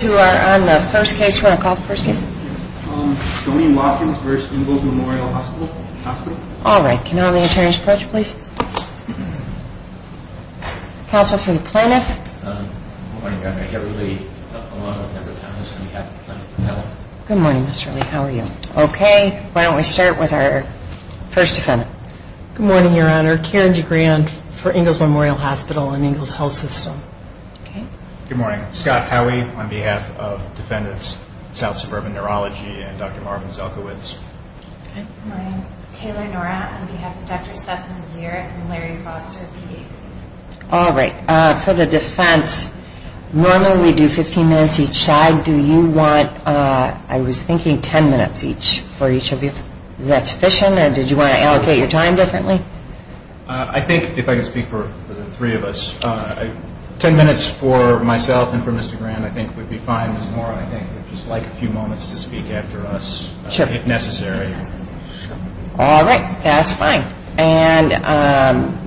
Who are on the first case roll call, first case? Colleen Watkins v. Ingalls Memorial Hospital Alright, can I have the attorney's refresh please? Counselor for the plaintiff? Good morning Your Honor, Kevin Lee. I'm on behalf of the plaintiff's defense. Good morning Ms. Shirley, how are you? Okay, why don't we start with our first defendant? Good morning Your Honor, Karen DeGrande for Ingalls Memorial Hospital and Ingalls Health System. Good morning, I'm Scott Howey on behalf of Defendants South Suburban Neurology and Dr. Marvin Zelkowicz. Good morning, I'm Taylor Norah on behalf of Dr. Seth Mazier and Larry Fox for PD. Alright, for the defense, normally we do 15 minutes each side. Do you want, I was thinking 10 minutes each for each of you? Is that sufficient or did you want to allocate your time differently? I think if I could speak for the three of us, 10 minutes for myself and for Mr. Graham I think would be fine. Norah I think would just like a few moments to speak after us if necessary. Alright, that's fine. And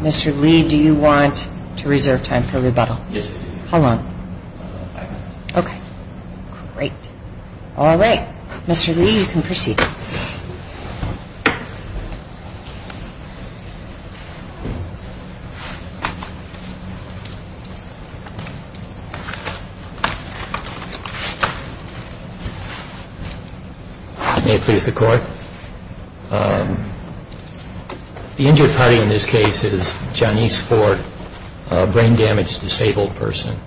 Mr. Lee, do you want to reserve time for rebuttal? Yes, I do. How long? Five minutes. Okay, great. Alright, Mr. Lee you can proceed. Thank you. May it please the court. The injured party in this case is Janice Ford, a brain damaged disabled person.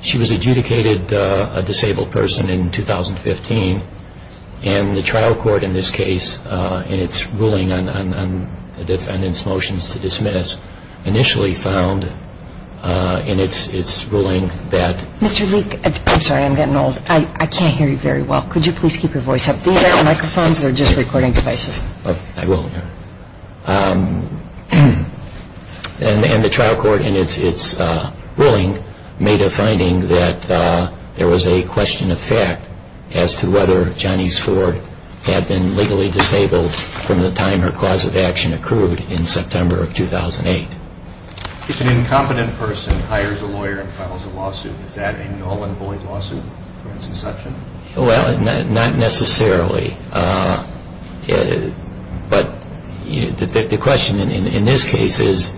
She was adjudicated a disabled person in 2015 and the trial court in this case in its ruling on the defendant's motions to dismiss initially found in its ruling that... Mr. Lee, I'm sorry I'm getting old. I can't hear you very well. Could you please keep your voice up? We have microphones that are just recording devices. I will. And the trial court in its ruling made a finding that there was a question of fact as to whether Janice Ford had been legally disabled from the time her cause of action accrued in September of 2008. If an incompetent person hires a lawyer and files a lawsuit, does that involve a bullet lawsuit for its inception? Well, not necessarily. But the question in this case is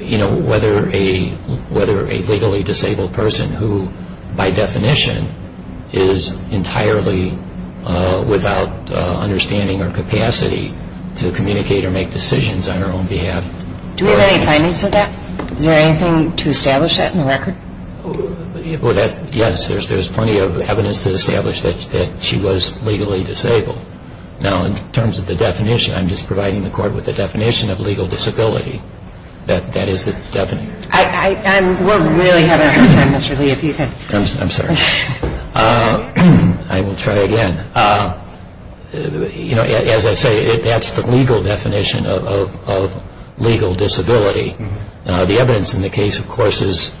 whether a legally disabled person who by definition is entirely without understanding or capacity to communicate or make decisions on her own behalf. Do we have any findings of that? Is there anything to establish that in the record? Yes, there's plenty of evidence to establish that she was legally disabled. Now, in terms of the definition, I'm just providing the court with the definition of legal disability. That is the definition. And we're really having a hard time, Mr. Lee, if you can... I'm sorry. I will try again. As I say, that's the legal definition of legal disability. Now, the evidence in the case, of course, is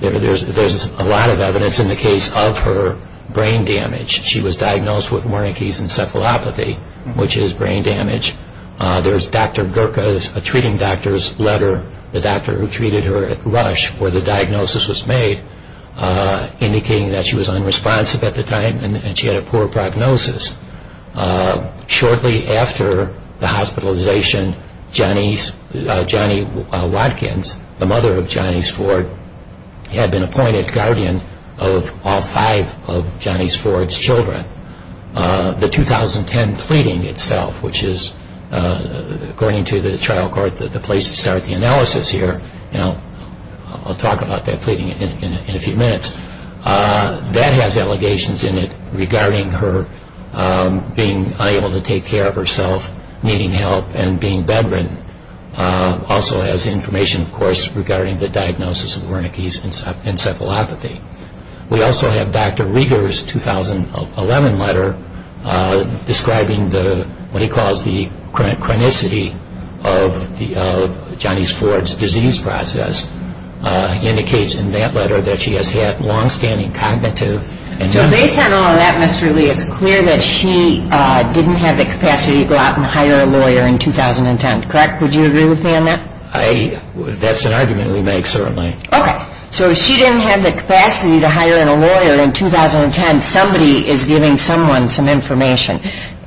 there's a lot of evidence in the case of her brain damage. She was diagnosed with Wernicke's encephalopathy, which is brain damage. There was a treating doctor's letter, the doctor who treated her at Rush, where the diagnosis was made indicating that she was unresponsive at the time and she had a poor prognosis. Shortly after the hospitalization, Johnny Watkins, the mother of Johnny's Ford, had been appointed guardian of all five of Johnny's Ford's children. The 2010 pleading itself, which is, according to the trial court, the place to start the analysis here. Now, I'll talk about that pleading in a few minutes. That has allegations in it regarding her being unable to take care of herself, needing help, and being bedridden. Also has information, of course, regarding the diagnosis of Wernicke's encephalopathy. We also have Dr. Rieger's 2011 letter describing what he calls the chronicity of Johnny's Ford's disease process. It indicates in that letter that she has had long-standing cognitive... So based on all of that, Mr. Lee, it's clear that she didn't have the capacity to go out and hire a lawyer in 2010, correct? Would you agree with me on that? That's an argument we make, certainly. Okay. So she didn't have the capacity to hire a lawyer in 2010. Somebody is giving someone some information.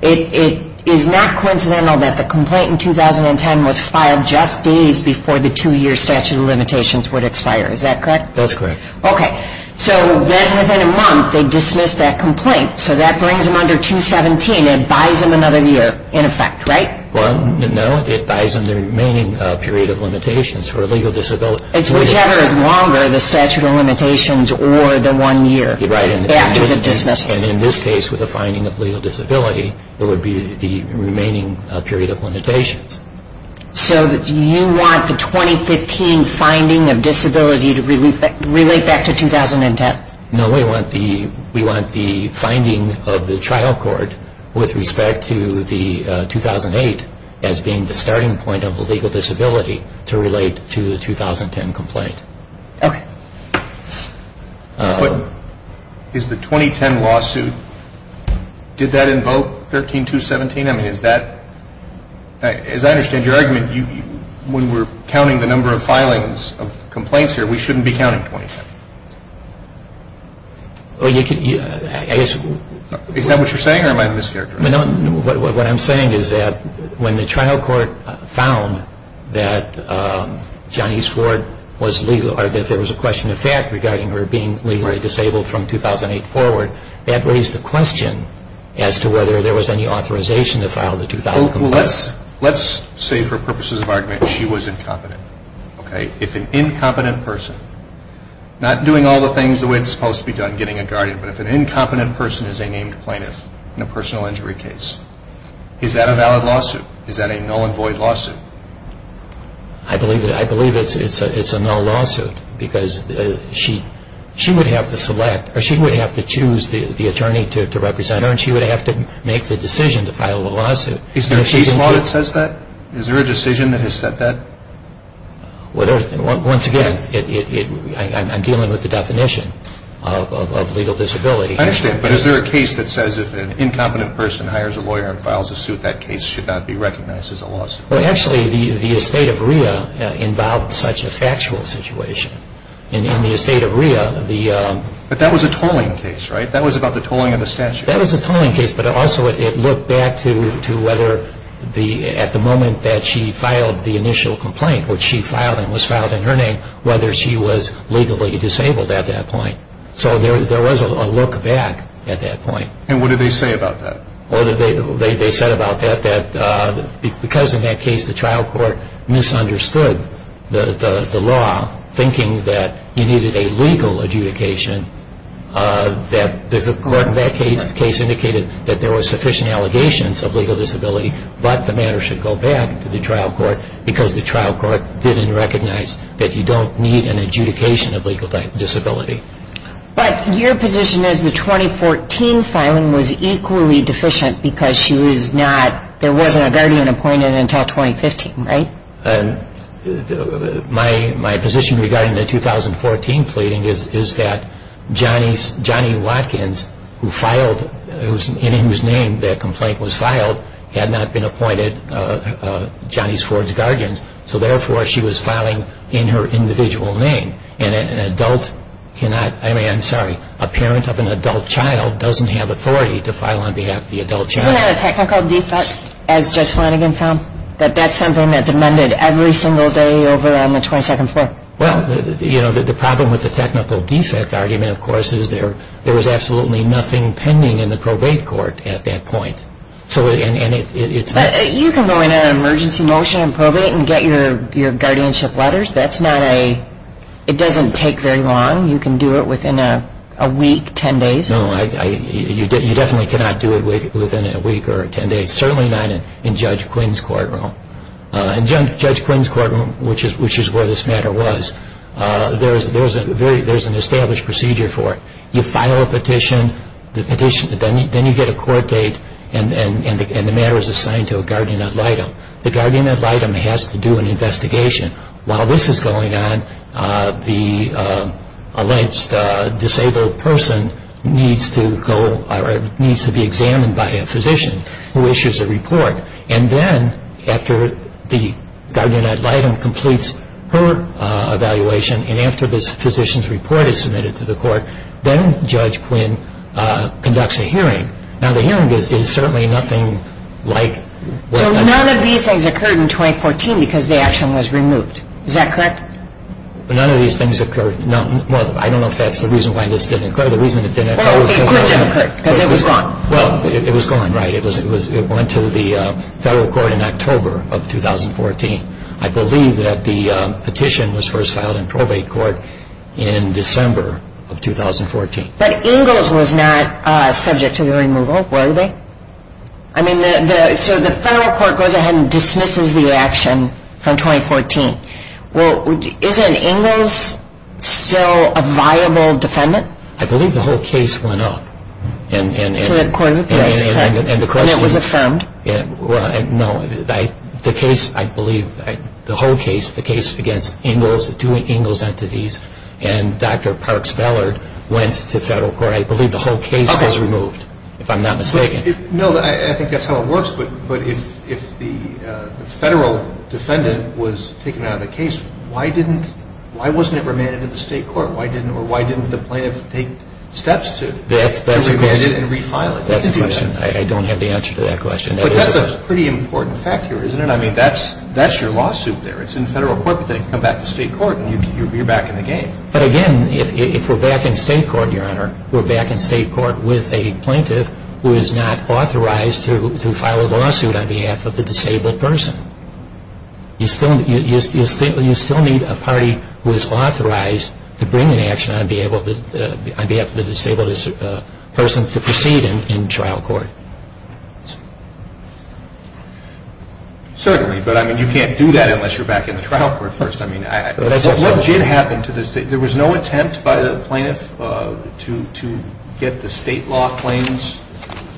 It is not coincidental that the complaint in 2010 was filed just days before the two-year statute of limitations would expire. Is that correct? That's correct. Okay. So then within a month, they dismiss that complaint. So that brings them under 217 and buys them another year, in effect, right? Well, no. It buys them the remaining period of limitations for legal disability. It's whichever is longer, the statute of limitations or the one year. Right. And in this case, with a finding of legal disability, it would be the remaining period of limitations. So do you want the 2015 finding of disability to relate back to 2010? No. We want the findings of the trial court with respect to the 2008 as being the starting point of the legal disability to relate to the 2010 complaint. Okay. Is the 2010 lawsuit, did that invoke 13217? As I understand your argument, when we're counting the number of filings of complaints here, we shouldn't be counting 2010. Is that what you're saying or am I mishearing? What I'm saying is that when the trial court found that Johnny's court was legal, or that there was a question of fact regarding her being legally disabled from 2008 forward, that raised the question as to whether there was any authorization to file the 2008 lawsuit. Let's say for purposes of argument, she was incompetent. If an incompetent person, not doing all the things the way it's supposed to be done, getting a guardian, but if an incompetent person is a named plaintiff in a personal injury case, is that a valid lawsuit? Is that a null and void lawsuit? I believe it's a null lawsuit because she would have to choose the attorney to represent her and she would have to make the decision to file the lawsuit. Is there a law that says that? Is there a decision that has said that? Once again, I'm dealing with the definition of legal disability. I understand, but is there a case that says if an incompetent person hires a lawyer and files a suit, that case should not be recognized as a lawsuit? Actually, the estate of Rhea involved such a factual situation. In the estate of Rhea, the... But that was a tolling case, right? That was about the tolling of a statute. That was a tolling case, but also it looked back to whether at the moment that she filed the initial complaint, which she filed and was filed in her name, whether she was legally disabled at that point. So there was a look back at that point. And what did they say about that? They said about that that because in that case the trial court misunderstood the law, thinking that he needed a legal adjudication, that the court in that case indicated that there were sufficient allegations of legal disability, but the matter should go back to the trial court because the trial court didn't recognize that you don't need an adjudication of legal disability. But your position is the 2014 filing was equally deficient because she was not... there wasn't a guardian appointed until 2015, right? My position regarding the 2014 pleading is that Johnny Watkins, whose name the complaint was filed, had not been appointed Johnny Ford's guardian, so therefore she was filing in her individual name. And an adult cannot... I mean, I'm sorry, a parent of an adult child doesn't have authority to file on behalf of the adult child. Isn't that a technical defect, as Judge Flanagan found, that that's something that's amended every single day over on the 22nd floor? Well, you know, the problem with the technical defect argument, of course, is there was absolutely nothing pending in the probate court at that point. You can go in on an emergency motion and probate and get your guardianship letters. That's not a... it doesn't take very long. You can do it within a week, 10 days. No, you definitely cannot do it within a week or 10 days, certainly not in Judge Quinn's courtroom. In Judge Quinn's courtroom, which is where this matter was, there's an established procedure for it. You file a petition, then you get a court date, and the matter is assigned to a guardian ad litem. The guardian ad litem has to do an investigation. While this is going on, the alleged disabled person needs to be examined by a physician who issues a report. And then after the guardian ad litem completes her evaluation and after this physician's report is submitted to the court, then Judge Quinn conducts a hearing. Now, the hearing is certainly nothing like... None of these things occurred in 2014 because the action was removed. Is that correct? None of these things occurred. I don't know if that's the reason why this didn't occur. The reason it didn't occur was because it was gone. It was gone, right. It went to the federal court in October of 2014. I believe that the petition was first filed in probate court in December of 2014. But Ingalls was not subject to the removal, were they? I mean, so the federal court goes ahead and dismisses the action from 2014. Well, isn't Ingalls still a viable defendant? I believe the whole case went up. And the question... It was affirmed. No, the case, I believe, the whole case, the case against Ingalls, the two Ingalls entities, and Dr. Parks Ballard went to federal court. I believe the whole case was removed, if I'm not mistaken. No, I think that's how it works. But if the federal defendant was taken out of the case, why wasn't it remanded to the state court? Or why didn't the plaintiff take steps to remand it and refile it? That's the question. I don't have the answer to that question. But that's a pretty important factor, isn't it? I mean, that's your lawsuit there. It's in federal court that they combat the state court, and you're back in the game. But, again, if we're back in state court, Your Honor, we're back in state court with a plaintiff who is not authorized to file a lawsuit on behalf of the disabled person. You still need a party who is authorized to bring an action on behalf of the disabled person to proceed in trial court. Certainly, but, I mean, you can't do that unless you're back in trial court first. What did happen to the state? There was no attempt by the plaintiff to get the state law claims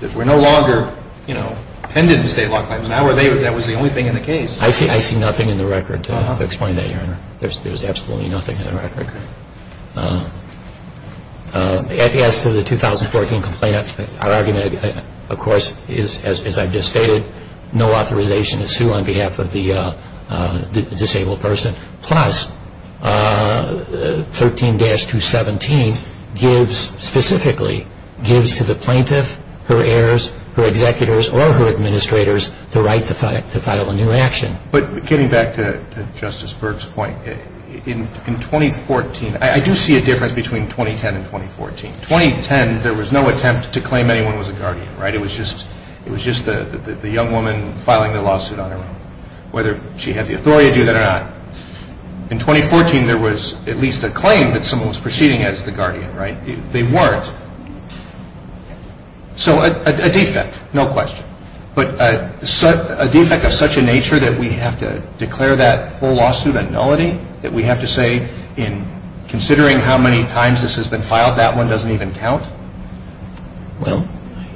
that were no longer, you know, pending state law claims. That was the only thing in the case. I see nothing in the record to explain that, Your Honor. There's absolutely nothing in the record. As to the 2014 complaint, our argument, of course, is, as I've just stated, no authorization to sue on behalf of the disabled person. Plus, 13-217 gives, specifically, gives to the plaintiff, her heirs, her executors, or her administrators the right to file a new action. But getting back to Justice Berg's point, in 2014, I do see a difference between 2010 and 2014. 2010, there was no attempt to claim anyone was a guardian, right? It was just the young woman filing the lawsuit on her own, whether she had the authority to do that or not. In 2014, there was at least a claim that someone was proceeding as the guardian, right? They weren't. So, a defect, no question. But a defect of such a nature that we have to declare that whole lawsuit a nullity, that we have to say, in considering how many times this has been filed, that one doesn't even count? Well?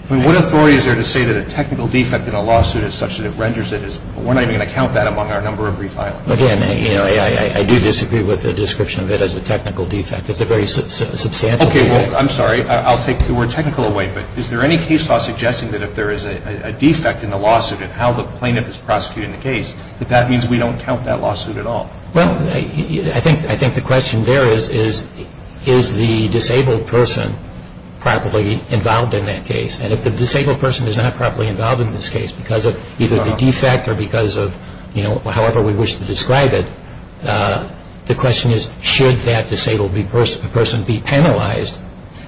I mean, what authority is there to say that a technical defect in a lawsuit is such that it renders it as null? We're not even going to count that among our number of refilings. Again, I do disagree with the description of it as a technical defect. It's a very substantial defect. Okay, well, I'm sorry, I'll take the word technical away, but is there any case law suggesting that if there is a defect in the lawsuit in how the plaintiff is prosecuting the case, that that means we don't count that lawsuit at all? Well, I think the question there is, is the disabled person properly involved in that case? And if the disabled person is not properly involved in this case because of either a defect or because of, you know, however we wish to describe it, the question is, should that disabled person be penalized?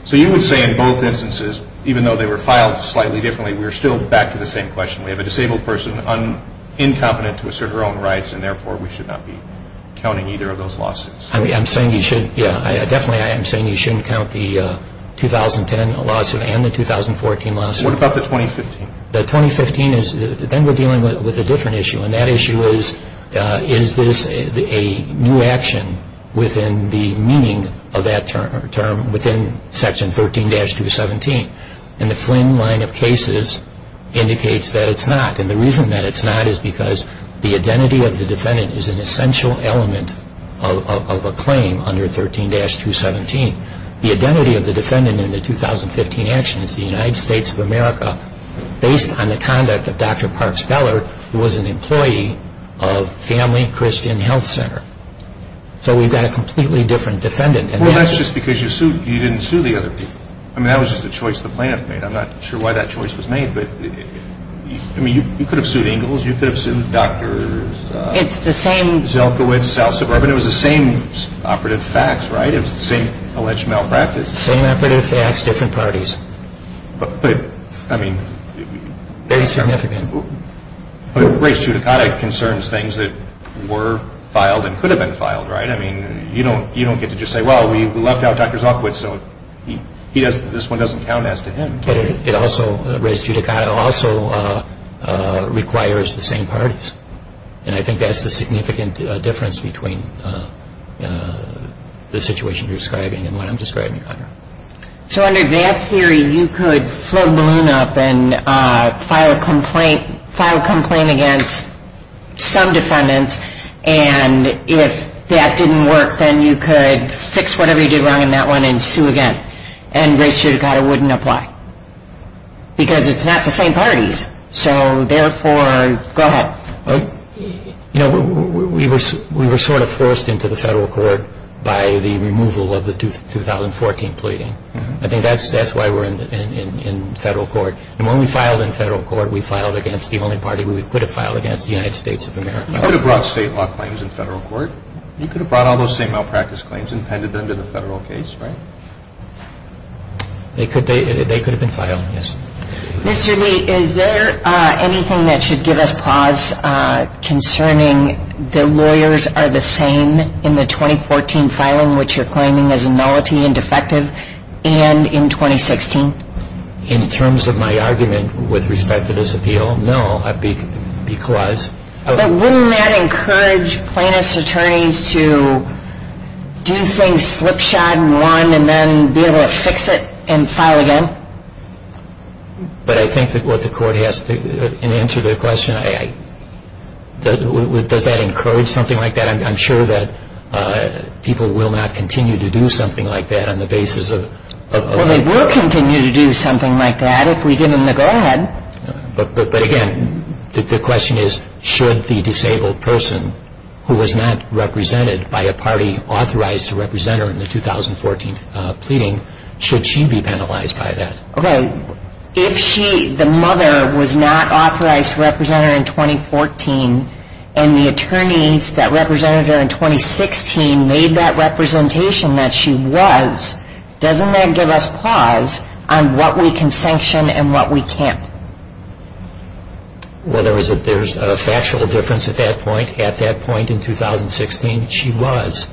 So you would say in both instances, even though they were filed slightly differently, we were still back to the same question. We have a disabled person incompetent to assert her own rights, and therefore we should not be counting either of those lawsuits. I'm saying you shouldn't, yeah, definitely I'm saying you shouldn't count the 2010 lawsuit and the 2014 lawsuit. What about the 2015? The 2015 is, then we're dealing with a different issue, and that issue is, is this a new action within the meaning of that term within Section 13-217? And the Flynn line of cases indicates that it's not, and the reason that it's not is because the identity of the defendant is an essential element of a claim under 13-217. The identity of the defendant in the 2015 action is the United States of America, based on the conduct of Dr. Parks Geller, who was an employee of Family Christian Health Center. So we've got a completely different defendant. Well, that's just because you didn't sue the other people. I mean, that was just a choice the plaintiff made. I'm not sure why that choice was made, but, I mean, you could have sued Ingalls, you could have sued Doctors... It's the same... Zelkovic, South Suburban, it was the same operative facts, right? It was the same alleged malpractice. Same operative facts, different parties. But, I mean... Very significant. But it relates to, it concerns things that were filed and could have been filed, right? I mean, you don't get to just say, well, we left out Dr. Zelkovic, so this one doesn't count as to him. But it also, res judicata, also requires the same parties. And I think that's the significant difference between the situation you're describing and what I'm describing. So under that theory, you could slow Maloon up and file a complaint against some defendants, and if that didn't work, then you could fix whatever you did wrong in that one and sue again. And res judicata wouldn't apply. Because it's not the same parties. So, therefore, go ahead. You know, we were sort of forced into the federal court by the removal of the 2014 pleading. I think that's why we're in federal court. And when we filed in federal court, we filed against the only party we could have filed against, the United States of America. You could have brought state law claims in federal court. You could have brought all those same malpractice claims and handed them to the federal case, right? They could have been filed, yes. Mr. Lee, is there anything that should give us pause concerning the lawyers are the same in the 2014 filing, which you're claiming was nullity and defective, and in 2016? In terms of my argument with respect to this appeal, no. But wouldn't that encourage plaintiff's attorneys to do things slip, shod, and run and then be able to fix it and file again? But I think that what the court has to answer the question, does that encourage something like that? I'm sure that people will not continue to do something like that on the basis of the law. Well, they will continue to do something like that if we give them the go-ahead. But again, the question is, should the disabled person who was not represented by a party authorized to represent her in the 2014 pleading, should she be penalized by that? Okay, if the mother was not authorized to represent her in 2014, and the attorneys that represented her in 2016 made that representation that she was, doesn't that give us pause on what we can sanction and what we can't? Well, there's a factual difference at that point. At that point in 2016, she was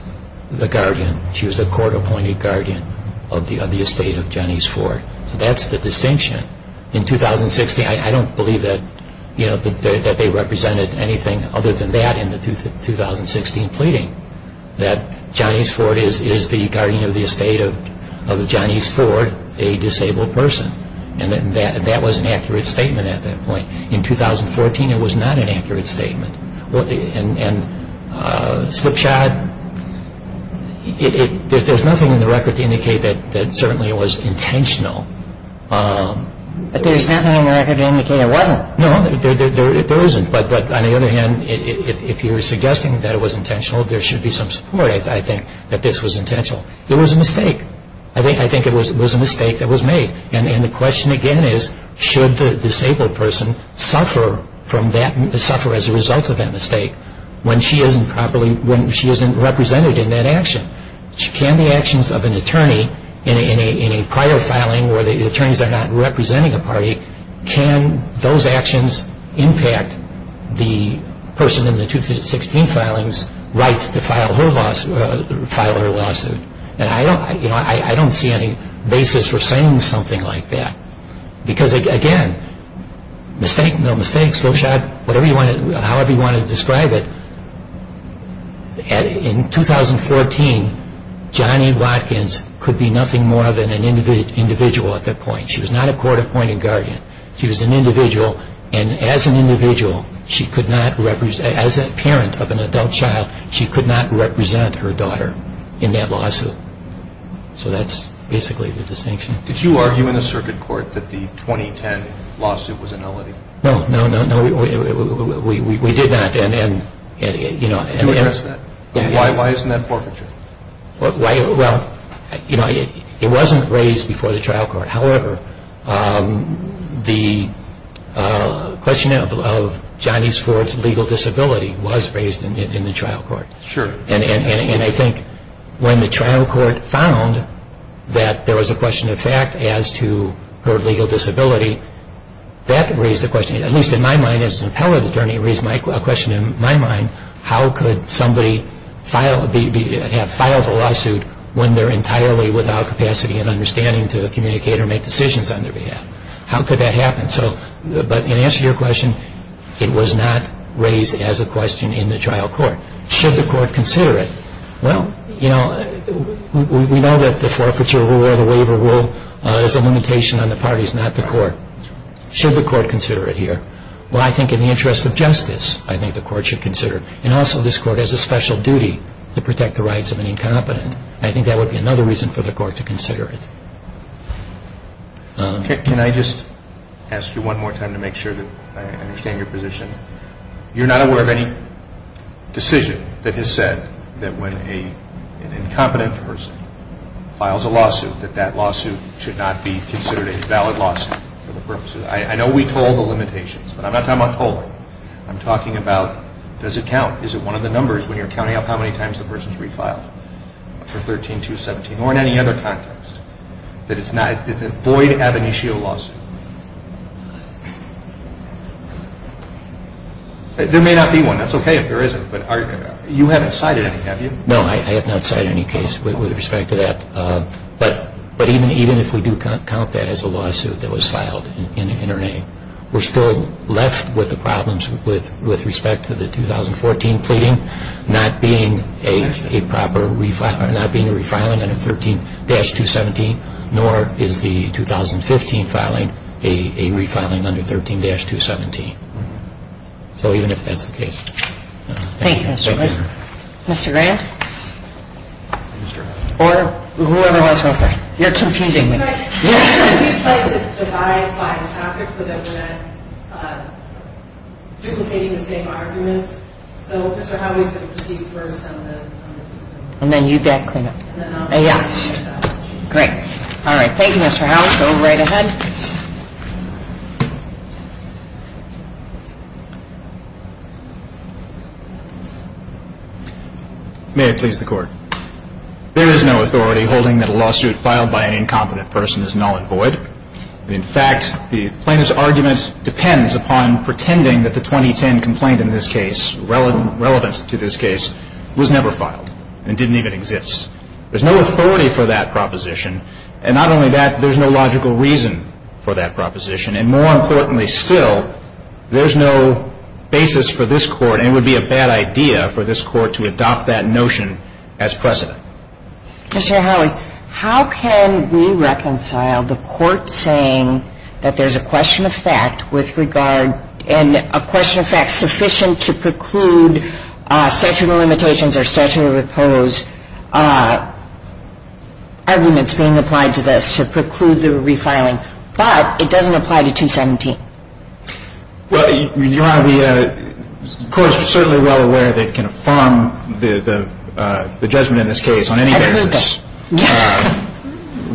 the guardian. She was the court-appointed guardian of the estate of Johnny's Ford. That's the distinction. In 2016, I don't believe that they represented anything other than that in the 2016 pleading, that Johnny's Ford is the guardian of the estate of Johnny's Ford, a disabled person. And that was an accurate statement at that point. In 2014, it was not an accurate statement. And Swipshod, there's nothing in the record to indicate that certainly it was intentional. There's nothing in the record to indicate it wasn't. No, there isn't. But on the other hand, if you're suggesting that it was intentional, there should be some support, I think, that this was intentional. There was a mistake. I think it was a mistake that was made. And the question again is, should the disabled person suffer as a result of that mistake when she isn't represented in that action? Can the actions of an attorney in a prior filing where the attorneys are not representing a party, can those actions impact the person in the 2016 filing's right to file her lawsuit? I don't see any basis for saying something like that. Because, again, mistakes, Swipshod, however you want to describe it, in 2014, Johnny Watkins could be nothing more than an individual at that point. She was not a court-appointed guardian. She was an individual, and as an individual, as a parent of an adult child, she could not represent her daughter in that lawsuit. So that's basically the distinction. Did you argue in the circuit court that the 2010 lawsuit was ineligible? No, no, no, no. We did not. Why isn't that forfeiture? It wasn't raised before the trial court. However, the question of Johnny's legal disability was raised in the trial court. Sure. And I think when the trial court found that there was a question of fact as to her legal disability, that raised the question, at least in my mind as an appellate attorney, raised a question in my mind, how could somebody have filed a lawsuit when they're entirely without capacity and understanding to communicate or make decisions on their behalf? How could that happen? But in answer to your question, it was not raised as a question in the trial court. Should the court consider it? Well, you know, we know that the forfeiture rule or the waiver rule is a limitation on the parties, not the court. Should the court consider it here? Well, I think in the interest of justice, I think the court should consider it. And also this court has a special duty to protect the rights of the incompetent. I think that would be another reason for the court to consider it. Can I just ask you one more time to make sure that I understand your position? You're not aware of any decision that has said that when an incompetent person files a lawsuit, that that lawsuit should not be considered a valid lawsuit for the purposes. I know we told the limitations, but I'm not talking about told. I'm talking about does it count? Is it one of the numbers when you're counting up how many times the person's refiled for 13-217 or in any other context that it's not void ad initio lawsuit? There may not be one. That's okay if there isn't. But you haven't cited any, have you? No, I have not cited any case with respect to that. But even if we do count that as a lawsuit that was filed in her name, we're still left with the problems with respect to the 2014 pleading not being a proper refiling, not being a refiling under 13-217, nor is the 2015 filing a refiling under 13-217. So even if that's the case. Thank you, Mr. Grant. Mr. Grant? You're confusing me. You're confusing me. And then you get a last. Great. All right. Thank you, Mr. House. We'll go right ahead. Thank you. May it please the Court. There is no authority holding that a lawsuit filed by an incompetent person is null and void. In fact, the plaintiff's argument depends upon pretending that the 2010 complaint in this case, relevant to this case, was never filed and didn't even exist. There's no authority for that proposition. And not only that, there's no logical reason for that proposition. And more importantly still, there's no basis for this Court, and it would be a bad idea for this Court to adopt that notion as precedent. Mr. Howard, how can we reconcile the Court saying that there's a question of fact with regard and a question of fact sufficient to preclude statutory limitations or statutory repose as arguments being applied to this to preclude there will be filing, but it doesn't apply to 2017? Well, Your Honor, the Court is certainly well aware that it can affirm the judgment in this case on any basis,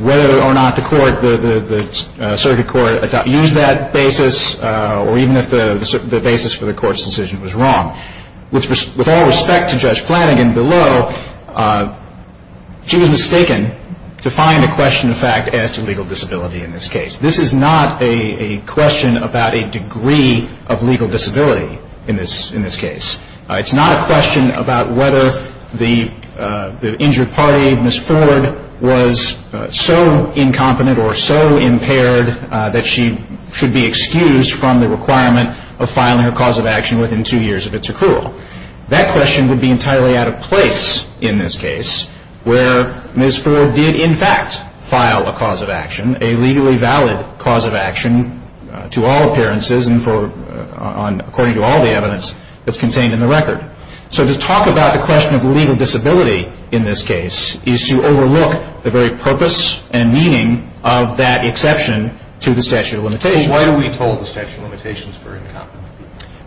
whether or not the Circuit Court adopted that basis or even if the basis for the Court's decision was wrong. With all respect to Judge Flanagan below, she was mistaken to find the question of fact as to legal disability in this case. This is not a question about a degree of legal disability in this case. It's not a question about whether the injured party, Ms. Ford, was so incompetent or so impaired that she should be excused from the requirement of filing a cause of action within two years of its approval. That question would be entirely out of place in this case where Ms. Ford did in fact file a cause of action, a legally valid cause of action to all appearances and according to all the evidence that's contained in the record. So to talk about the question of legal disability in this case is to overlook the very purpose and meaning of that exception to the statute of limitations. Why do we hold the statute of limitations for incompetence?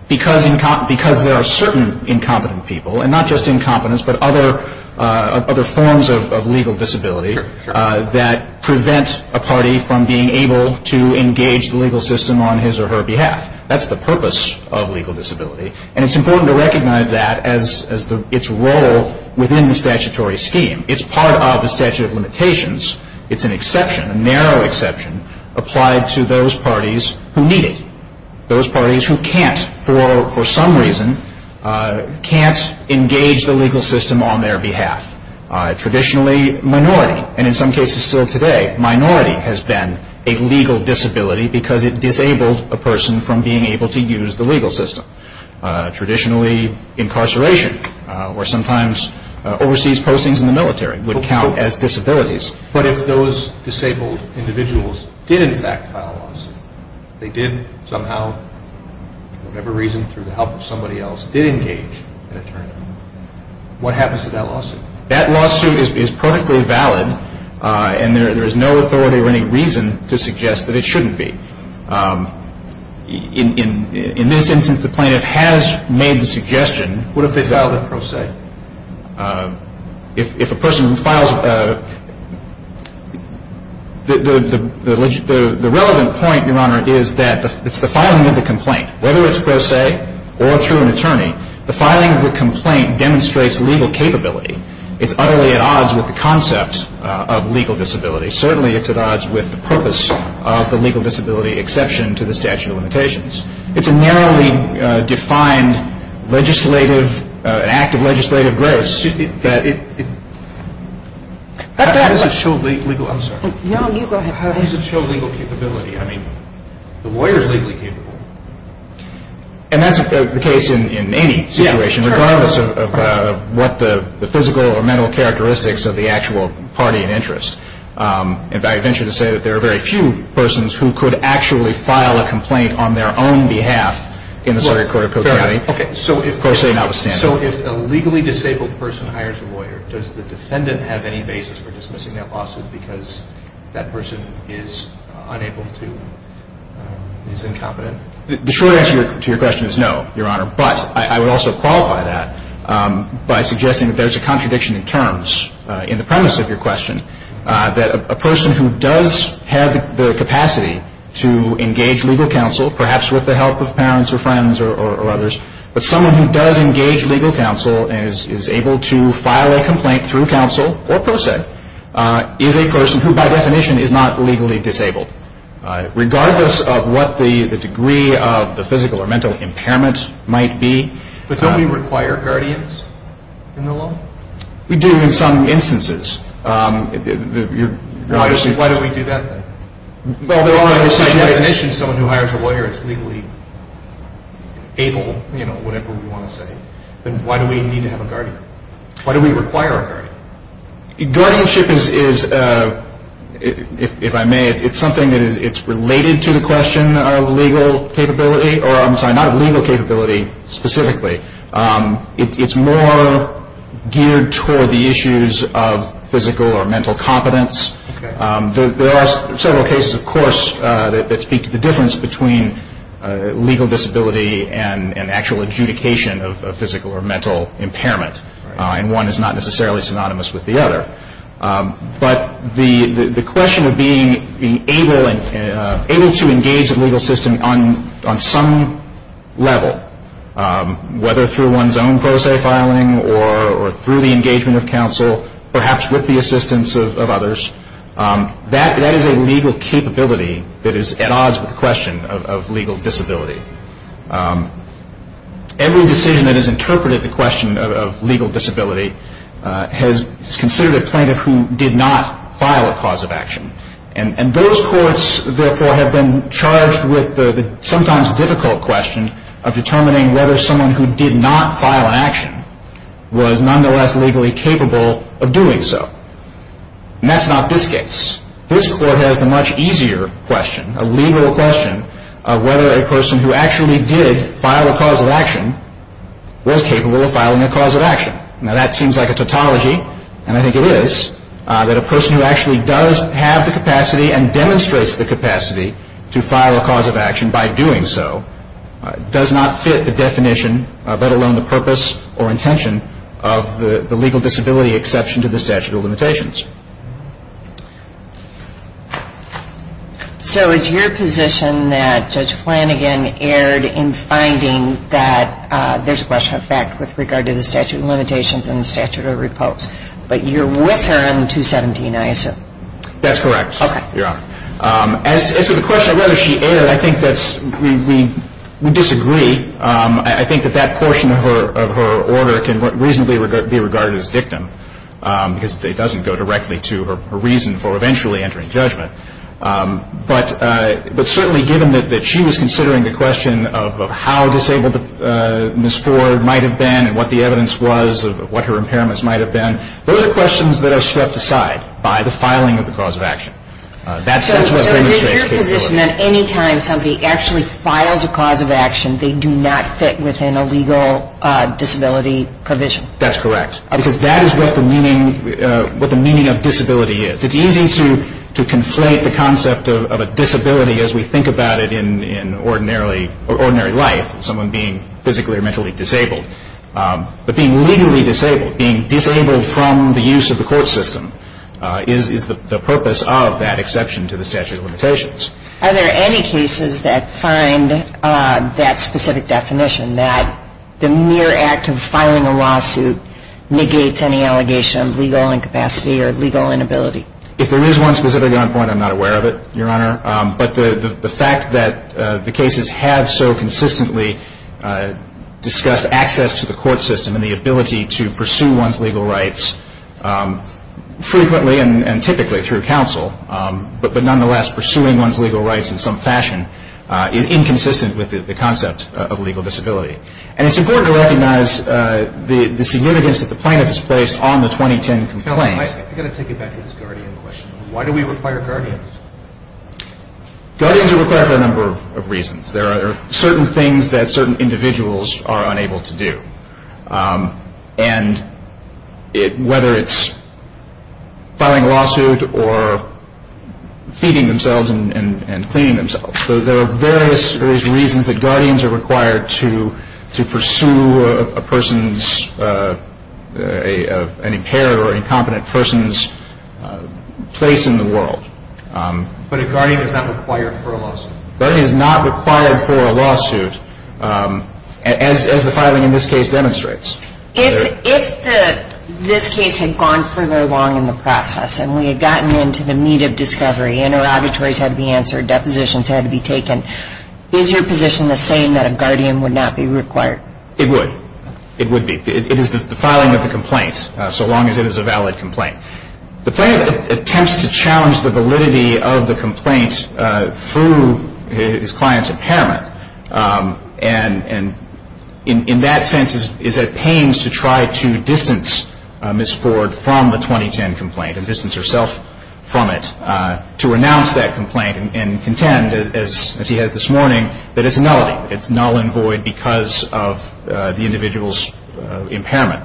Because there are certain incompetent people, and not just incompetence, but other forms of legal disability that prevent a party from being able to engage the legal system on his or her behalf. That's the purpose of legal disability, and it's important to recognize that as its role within the statutory scheme. It's part of the statute of limitations. It's an exception, a narrow exception, applied to those parties who need it. Those parties who can't, for some reason, can't engage the legal system on their behalf. Traditionally, minority, and in some cases still today, minority has been a legal disability because it disabled a person from being able to use the legal system. Traditionally, incarceration or sometimes overseas postings in the military would count as disabilities. But if those disabled individuals did in fact file a lawsuit, they did somehow, for whatever reason, through the help of somebody else, did engage, what happens to that lawsuit? That lawsuit is perfectly valid, and there is no authority or any reason to suggest that it shouldn't be. In this instance, the plaintiff has made the suggestion, what if they filed a pro se? If a person files a... The relevant point, Your Honor, is that the filing of a complaint, whether it's pro se or through an attorney, the filing of a complaint demonstrates legal capability. It's utterly at odds with the concepts of legal disability. Certainly it's at odds with the purpose of the legal disability exception to the statute of limitations. It's a narrowly defined legislative, an act of legislative grace that... How does it show legal... I'm sorry. No, you go ahead. How does it show legal capability? I mean, the lawyer is legally capable. And that's the case in any situation, regardless of what the physical or mental characteristics of the actual party in interest. In fact, I venture to say that there are very few persons who could actually file a complaint on their own behalf in the circuit court of pro se. So if the legally disabled person hires a lawyer, does the defendant have any basis for dismissing that lawsuit because that person is unable to... is incompetent? The short answer to your question is no, Your Honor. But I would also qualify that by suggesting that there's a contradiction in terms in the premise of your question, that a person who does have the capacity to engage legal counsel, perhaps with the help of parents or friends or others, but someone who does engage legal counsel and is able to file a complaint through counsel or pro se, is a person who, by definition, is not legally disabled. Regardless of what the degree of the physical or mental impairment might be... But don't we require guardians in the law? We do in some instances. Why don't we do that then? Well, Your Honor, that's not yet an issue. Someone who hires a lawyer is legally able, you know, whatever we want to say. Then why do we need to have a guardian? Why do we require a guardian? Guardianship is, if I may, it's something that is related to the question of legal capability, or I'm sorry, not legal capability specifically. It's more geared toward the issues of physical or mental competence. There are several cases, of course, that speak to the difference between legal disability and actual adjudication of physical or mental impairment. And one is not necessarily synonymous with the other. But the question of being able to engage the legal system on some level, whether through one's own pro se filing or through the engagement of counsel, perhaps with the assistance of others, that is a legal capability that is at odds with the question of legal disability. Every decision that has interpreted the question of legal disability has considered a plaintiff who did not file a cause of action. And those courts, therefore, have been charged with the sometimes difficult question of determining whether someone who did not file an action was nonetheless legally capable of doing so. And that's not this case. This court has a much easier question, a legal question, of whether a person who actually did file a cause of action was capable of filing a cause of action. Now that seems like a tautology, and I think it is, that a person who actually does have the capacity and demonstrates the capacity to file a cause of action by doing so does not fit the definition, let alone the purpose or intention, of the legal disability exception to the statute of limitations. So it's your position that Judge Flanagan erred in finding that there's a question of fact with regard to the statute of limitations and the statute of repulse. But you're with her on the 217 ISO. That's correct, Your Honor. As to the question of whether she erred, I think that we disagree. I think that that portion of her order can reasonably be regarded as dictum because it doesn't go directly to her reason for eventually entering judgment. But certainly given that she was considering the question of how disabled Ms. Ford might have been and what the evidence was of what her impairments might have been, those are questions that are set aside by the filing of the cause of action. So your position is that any time somebody actually files a cause of action, they do not fit within a legal disability provision? That's correct. Because that is what the meaning of disability is. It's easy to conflate the concept of a disability as we think about it in ordinary life, someone being physically or mentally disabled. But being legally disabled, being disabled from the use of the court system, is the purpose of that exception to the statute of limitations. Are there any cases that find that specific definition, that the mere act of filing a lawsuit negates any allegation of legal incapacity or legal inability? If there is one specific one, I'm not aware of it, Your Honor. But the fact that the cases have so consistently discussed access to the court system and the ability to pursue one's legal rights frequently and typically through counsel, but nonetheless pursuing one's legal rights in some fashion, is inconsistent with the concept of legal disability. And it's important to recognize the significance that the plaintiff has placed on the 2010 complaint. I've got to take you back to this guardian question. Why do we require guardians? Guardians are required for a number of reasons. There are certain things that certain individuals are unable to do. And whether it's filing a lawsuit or feeding themselves and cleaning themselves. So there are various reasons that guardians are required to pursue a person's, an impaired or incompetent person's place in the world. That is not required for a lawsuit, as the filing in this case demonstrates. If this case had gone further along in the process and we had gotten into the meat of discovery and interrogatories had to be answered, depositions had to be taken, is your position the same that a guardian would not be required? It would. It would be. It is the filing of the complaint, so long as it is a valid complaint. The plaintiff attempts to challenge the validity of the complaint through his client's impairment. And in that sense is at pains to try to distance Ms. Ford from the 2010 complaint and distance herself from it to announce that complaint and contend, as he has this morning, that it's null and void because of the individual's impairment.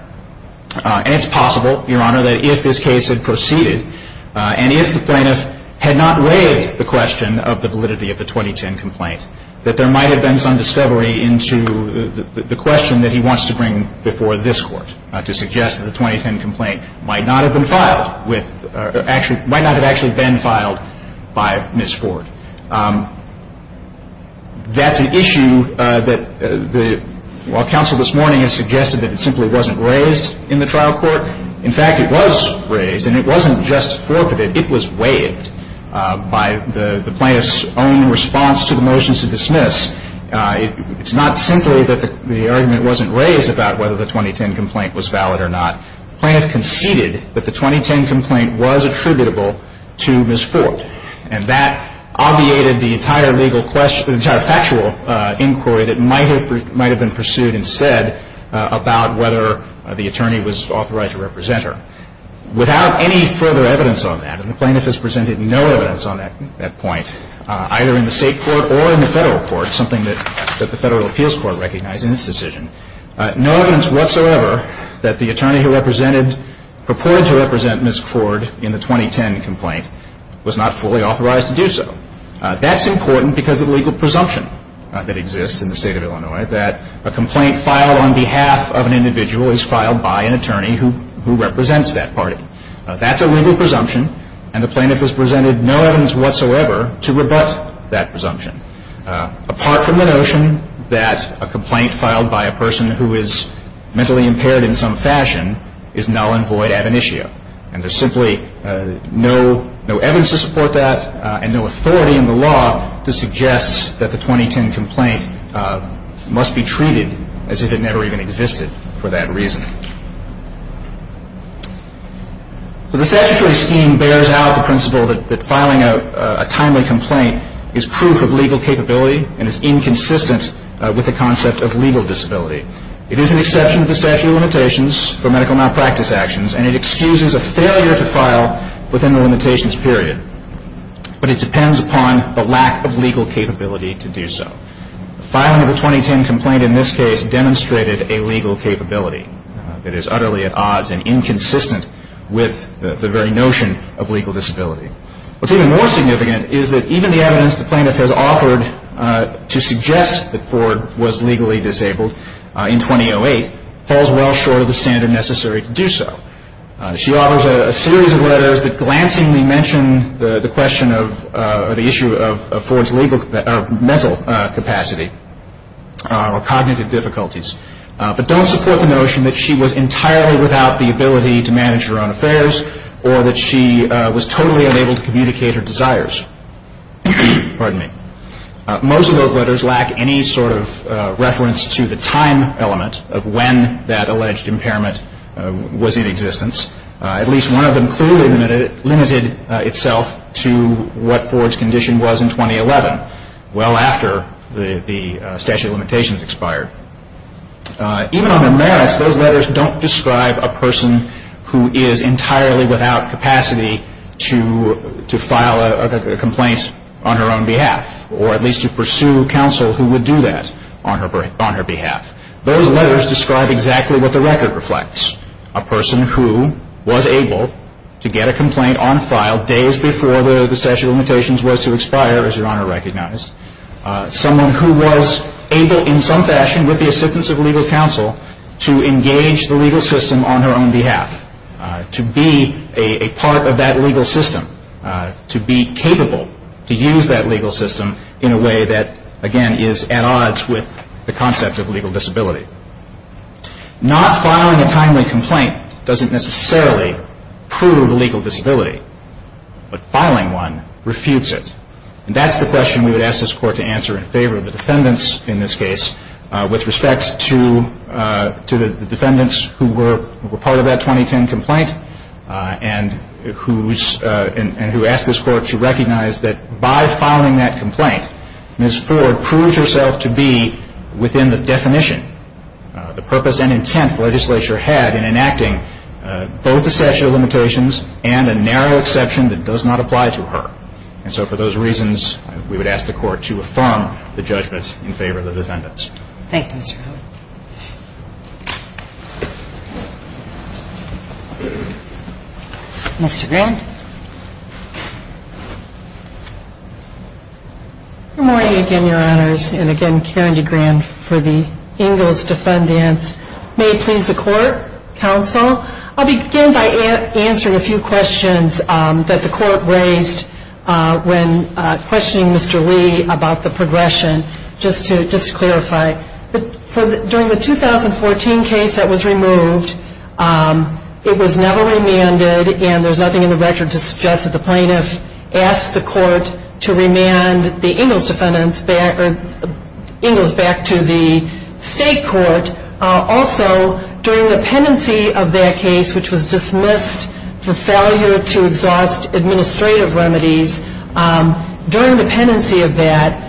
And it's possible, Your Honor, that if this case had proceeded and if the plaintiff had not raised the question of the validity of the 2010 complaint, that there might have been some discovery into the question that he wants to bring before this Court to suggest that the 2010 complaint might not have been filed with, might not have actually been filed by Ms. Ford. That's an issue that, while counsel this morning has suggested that it simply wasn't raised in the trial court, in fact it was raised and it wasn't just brokered, it was waived by the plaintiff's own response to the motion to dismiss. It's not simply that the argument wasn't raised about whether the 2010 complaint was valid or not. The plaintiff conceded that the 2010 complaint was attributable to Ms. Ford. And that obviated the entire legal question, the entire factual inquiry that might have been pursued instead about whether the attorney was authorized to represent her. Without any further evidence on that, and the plaintiff has presented no evidence on that point, either in the state court or in the federal court, something that the federal appeals court recognized in this decision, no evidence whatsoever that the attorney who represented, purported to represent Ms. Ford in the 2010 complaint was not fully authorized to do so. That's important because of the legal presumption that exists in the state of Illinois, that a complaint filed on behalf of an individual is filed by an attorney who represents that party. That's a legal presumption, and the plaintiff has presented no evidence whatsoever to rebut that presumption. Apart from the notion that a complaint filed by a person who is mentally impaired in some fashion is null and void ab initio. And there's simply no evidence to support that and no authority in the law to suggest that the 2010 complaint must be treated as if it never even existed for that reason. The statutory scheme bears out the principle that filing a timely complaint is proof of legal capability and is inconsistent with the concept of legal disability. It is an exception to statutory limitations for medical malpractice actions, and it excuses a failure to file within the limitations period. But it depends upon the lack of legal capability to do so. The filing of a 2010 complaint in this case demonstrated a legal capability that is utterly at odds and inconsistent with the very notion of legal disability. What's even more significant is that even the evidence the plaintiff has offered to suggest that Ford was legally disabled in 2008 falls well short of the standard necessary to do so. She offers a series of letters that glancingly mention the issue of Ford's mental capacity or cognitive difficulties, but don't support the notion that she was entirely without the ability to manage her own affairs or that she was totally unable to communicate her desires. Most of those letters lack any sort of reference to the time element of when that alleged impairment was in existence. At least one of them clearly limited itself to what Ford's condition was in 2011, well after the statute of limitations expired. Even on the next, those letters don't describe a person who is entirely without capacity to file a complaint on her own behalf, or at least to pursue counsel who would do that on her behalf. Those letters describe exactly what the record reflects. A person who was able to get a complaint on file days before the statute of limitations was to expire, as Your Honor recognized. Someone who was able, in some fashion, with the assistance of legal counsel, to engage the legal system on her own behalf. To be a part of that legal system. To be capable to use that legal system in a way that, again, is at odds with the concept of legal disability. Not filing a timely complaint doesn't necessarily prove legal disability, but filing one refutes it. And that's the question we would ask this Court to answer in favor of the defendants in this case, with respect to the defendants who were part of that 2010 complaint, and who asked this Court to recognize that by filing that complaint, Ms. Ford proved herself to be within the definition, the purpose and intent the legislature had in enacting both the statute of limitations and a narrow exception that does not apply to her. And so for those reasons, we would ask the Court to affirm the judgment in favor of the defendants. Thank you, Mr. Howard. Mr. Grant? Good morning again, Your Honors. And again, Karen DeGran for the English Defendant. May it please the Court, Counsel, I'll begin by answering a few questions that the Court raised when questioning Mr. Lee about the progression, just to clarify. During the 2014 case that was removed, it was never remanded, and there's nothing in the record to suggest that the plaintiff asked the Court to remand the English defendant back to the state court. And also, during the pendency of that case, which was dismissed for failure to exhaust administrative remedies, during the pendency of that,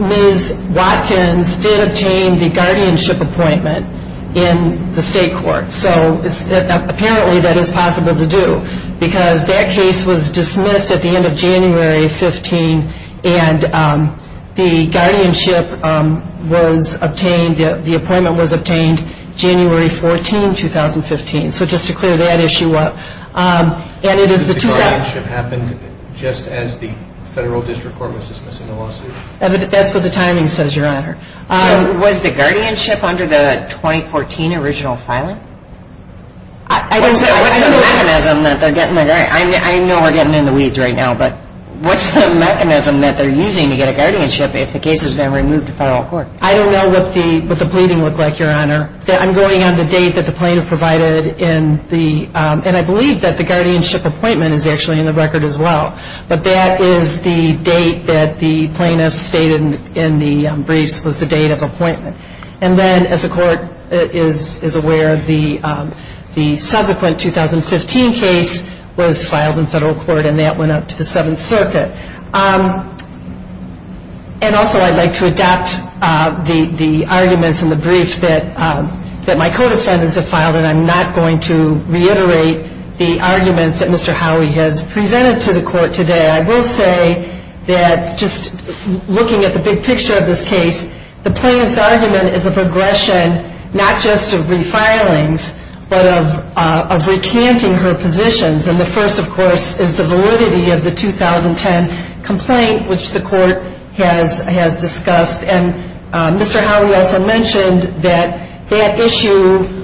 Ms. Watkins did obtain the guardianship appointment in the state court. So apparently that is possible to do, because that case was dismissed at the end of January 15, and the guardianship was obtained, the appointment was obtained January 14, 2015. So just to clear that issue up, and it is the two- The guardianship happened just as the federal district court was discussing the lawsuit? That's what the timing says, Your Honor. Was the guardianship under the 2014 original filing? I know we're getting in the weeds right now, but what's the mechanism that they're using to get a guardianship if the case was never removed to federal court? I don't know what the pleading looked like, Your Honor. I'm going on the date that the plaintiff provided, and I believe that the guardianship appointment is actually in the record as well. But that is the date that the plaintiff stated in the briefs was the date of appointment. And then, as the court is aware, the subsequent 2015 case was filed in federal court, and that went up to the Seventh Circuit. And also, I'd like to adopt the arguments in the brief that my co-descendants have filed, and I'm not going to reiterate the arguments that Mr. Howley has presented to the court today. I will say that just looking at the big picture of this case, the plaintiff's argument is of aggression not just of refilings, but of recanting her positions, and the first, of course, is the validity of the 2010 complaint, which the court has discussed. And Mr. Howley also mentioned that that issue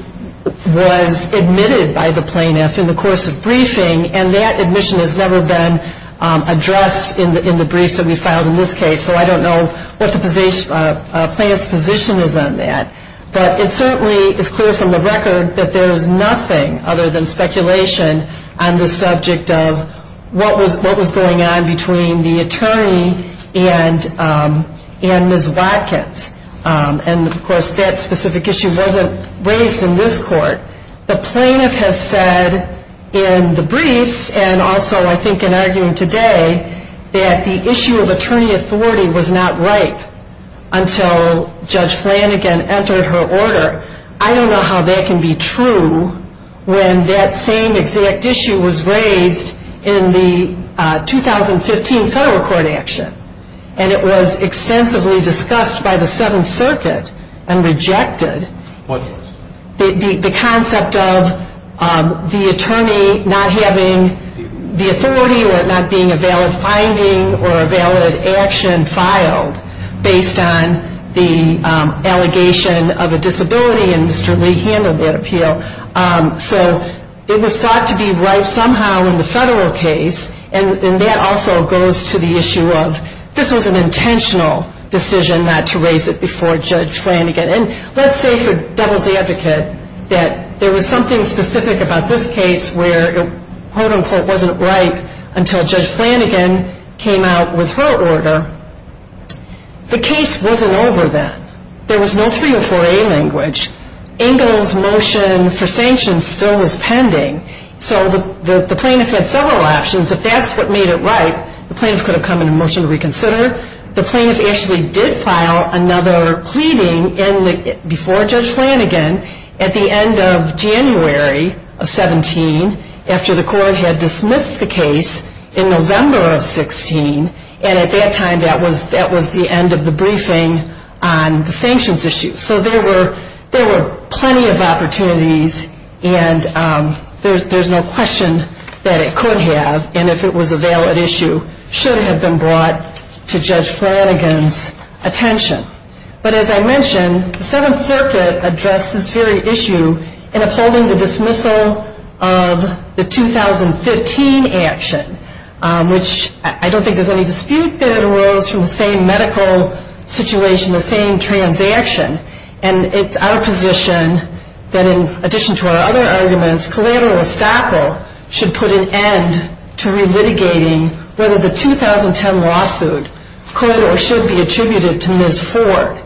was admitted by the plaintiff in the course of briefing, and that admission has never been addressed in the briefs that we filed in this case, so I don't know what the plaintiff's position is on that. But it certainly is clear from the record that there is nothing other than speculation on the subject of what was going on between the attorney and Ms. Watkins. And, of course, that specific issue wasn't raised in this court. The plaintiff has said in the briefs, and also I think in arguing today, that the issue of attorney authority was not right until Judge Flanagan entered her order. I don't know how that can be true when that same exact issue was raised in the 2015 federal court action, and it was extensively discussed by the Seventh Circuit and rejected. The concept of the attorney not having the authority or it not being a valid finding or a valid action filed based on the allegation of a disability, so it was thought to be right somehow in the federal case, and that also goes to the issue of this was an intentional decision not to raise it before Judge Flanagan. And let's say for devil's advocate that there was something specific about this case where it quote-unquote wasn't right until Judge Flanagan came out with her order. The case wasn't over then. There was no 3A or 4A language. Engel's motion for sanctions still was pending. So the plaintiff had several options. If that's what made it right, the plaintiff could have come into motion to reconsider. The plaintiff actually did file another pleading before Judge Flanagan at the end of January of 17 after the court had dismissed the case in November of 16, and at that time that was the end of the briefing on the sanctions issue. So there were plenty of opportunities, and there's no question that it could have, and if it was a valid issue, should have been brought to Judge Flanagan's attention. But as I mentioned, the Seventh Circuit addressed this very issue in upholding the dismissal of the 2015 action, which I don't think there's any dispute there in the world, it's the same medical situation, the same transaction. And it's our position that in addition to our other arguments, Calamity or Sackle should put an end to re-litigating whether the 2010 lawsuit could or should be attributed to Ms. Ford.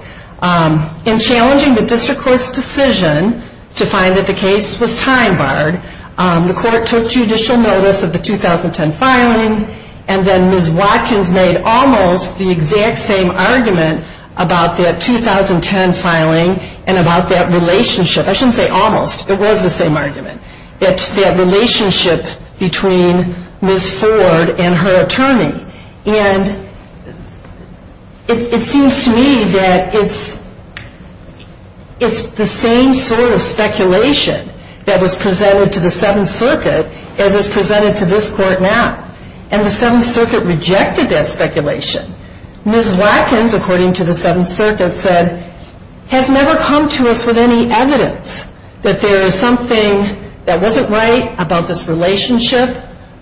In challenging the district court's decision to find that the case was time-barred, the court took judicial notice of the 2010 filing, and then Ms. Watkins made almost the exact same argument about that 2010 filing, and about that relationship, I shouldn't say almost, it was the same argument, that relationship between Ms. Ford and her attorney. And it seems to me that it's the same sort of speculation that was presented to the Seventh Circuit that was presented to this court now. And the Seventh Circuit rejected that speculation. Ms. Watkins, according to the Seventh Circuit, said, has never come to us with any evidence that there is something that wasn't right about this relationship,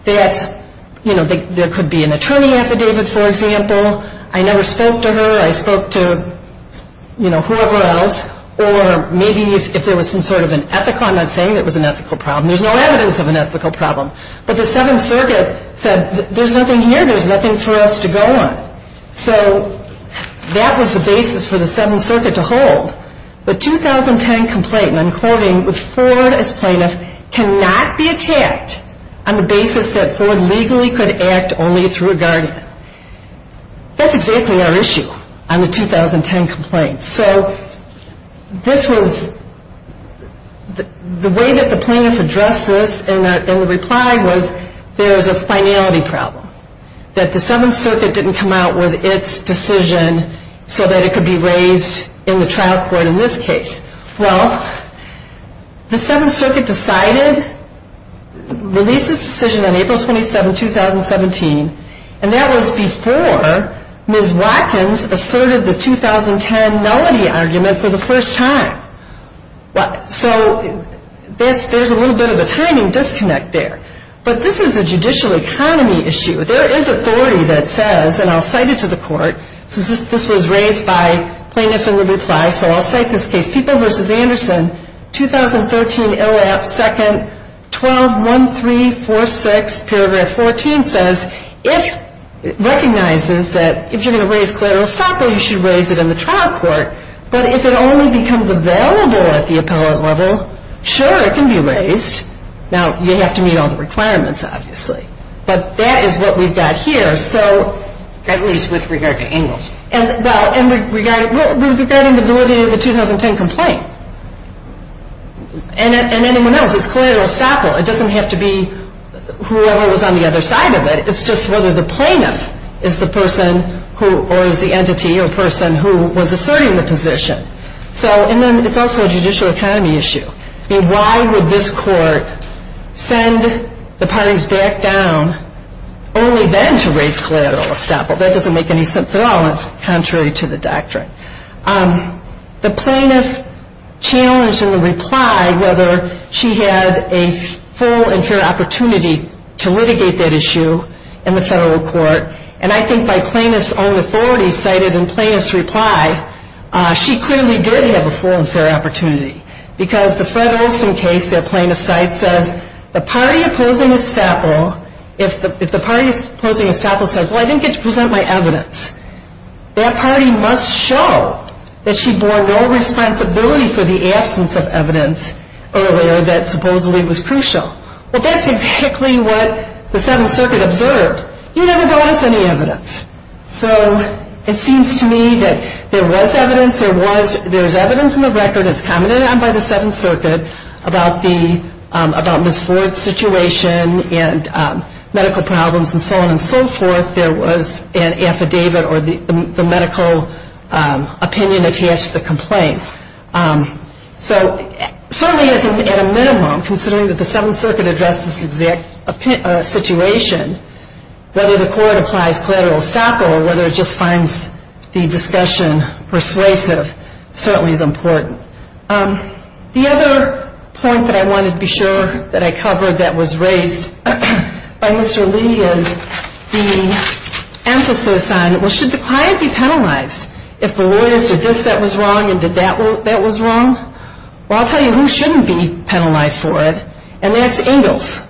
that there could be an attorney affidavit, for example, I never spoke to her, I spoke to whoever else, or maybe if there was some sort of an ethical comment saying it was an ethical problem. There's no evidence of an ethical problem. But the Seventh Circuit said, there's nothing here, there's nothing for us to go on. So, that was the basis for the Seventh Circuit to hold. The 2010 complaint, and I'm quoting, was Ford as plaintiff, cannot be attacked on the basis that Ford legally could act only to regard them. That's exactly our issue on the 2010 complaint. So, this was, the way that the plaintiffs addressed this in the reply was, there's a finality problem, that the Seventh Circuit didn't come out with its decision so that it could be raised in the trial court in this case. Well, the Seventh Circuit decided, released its decision on April 27, 2017, and that was before Ms. Watkins asserted the 2010 Melody argument for the first time. So, there's a little bit of a timing disconnect there. But this is a judicial economy issue. There is authority that says, and I'll cite it to the court, since this was raised by plaintiffs in the reply, so I'll cite this case, Peoples v. Anderson, 2013, ill at second, 12-1346, paragraph 14 says, it recognizes that if you're going to raise collateral, you should raise it in the trial court. But if it only becomes available at the appellate level, sure, it can be raised. Now, you have to meet all the requirements, obviously. But that is what we've got here. At least with regard to English. Well, and we've got it in the 2010 complaint. And anyone else, it's collateral estoppel. It doesn't have to be whoever was on the other side of it. It's just whether the plaintiff is the person or the entity or person who was asserting the position. So, and then it's also a judicial economy issue. Why would this court send the parties back down only then to raise collateral estoppel? That doesn't make any sense at all, contrary to the doctrine. The plaintiff challenged in the reply whether she had a full and fair opportunity to litigate that issue in the federal court. And I think by plaintiff's own authority cited in plaintiff's reply, she clearly did have a full and fair opportunity. Because the Fred Olson case that plaintiff cited said, if the party opposing estoppel says, well, I didn't get to present my evidence, that party must show that she bore no responsibility for the absence of evidence earlier that supposedly was crucial. Well, that's exactly what the Seventh Circuit observed. You never brought up any evidence. So, it seems to me that there was evidence, there's evidence in the record that's coming in by the Seventh Circuit about Ms. Ford's situation and medical problems and so on and so forth. There was an affidavit or the medical opinion attached to the complaint. So, certainly at a minimum, considering that the Seventh Circuit addresses the exact situation, whether the court applies collateral estoppel or whether it just finds the discussion persuasive, certainly is important. The other point that I wanted to be sure that I covered that was raised by Mr. Lee is the emphasis on, well, should the client be penalized if the lawyer said this that was wrong and did that that was wrong? Well, I'll tell you who shouldn't be penalized for it. And that's Ingalls,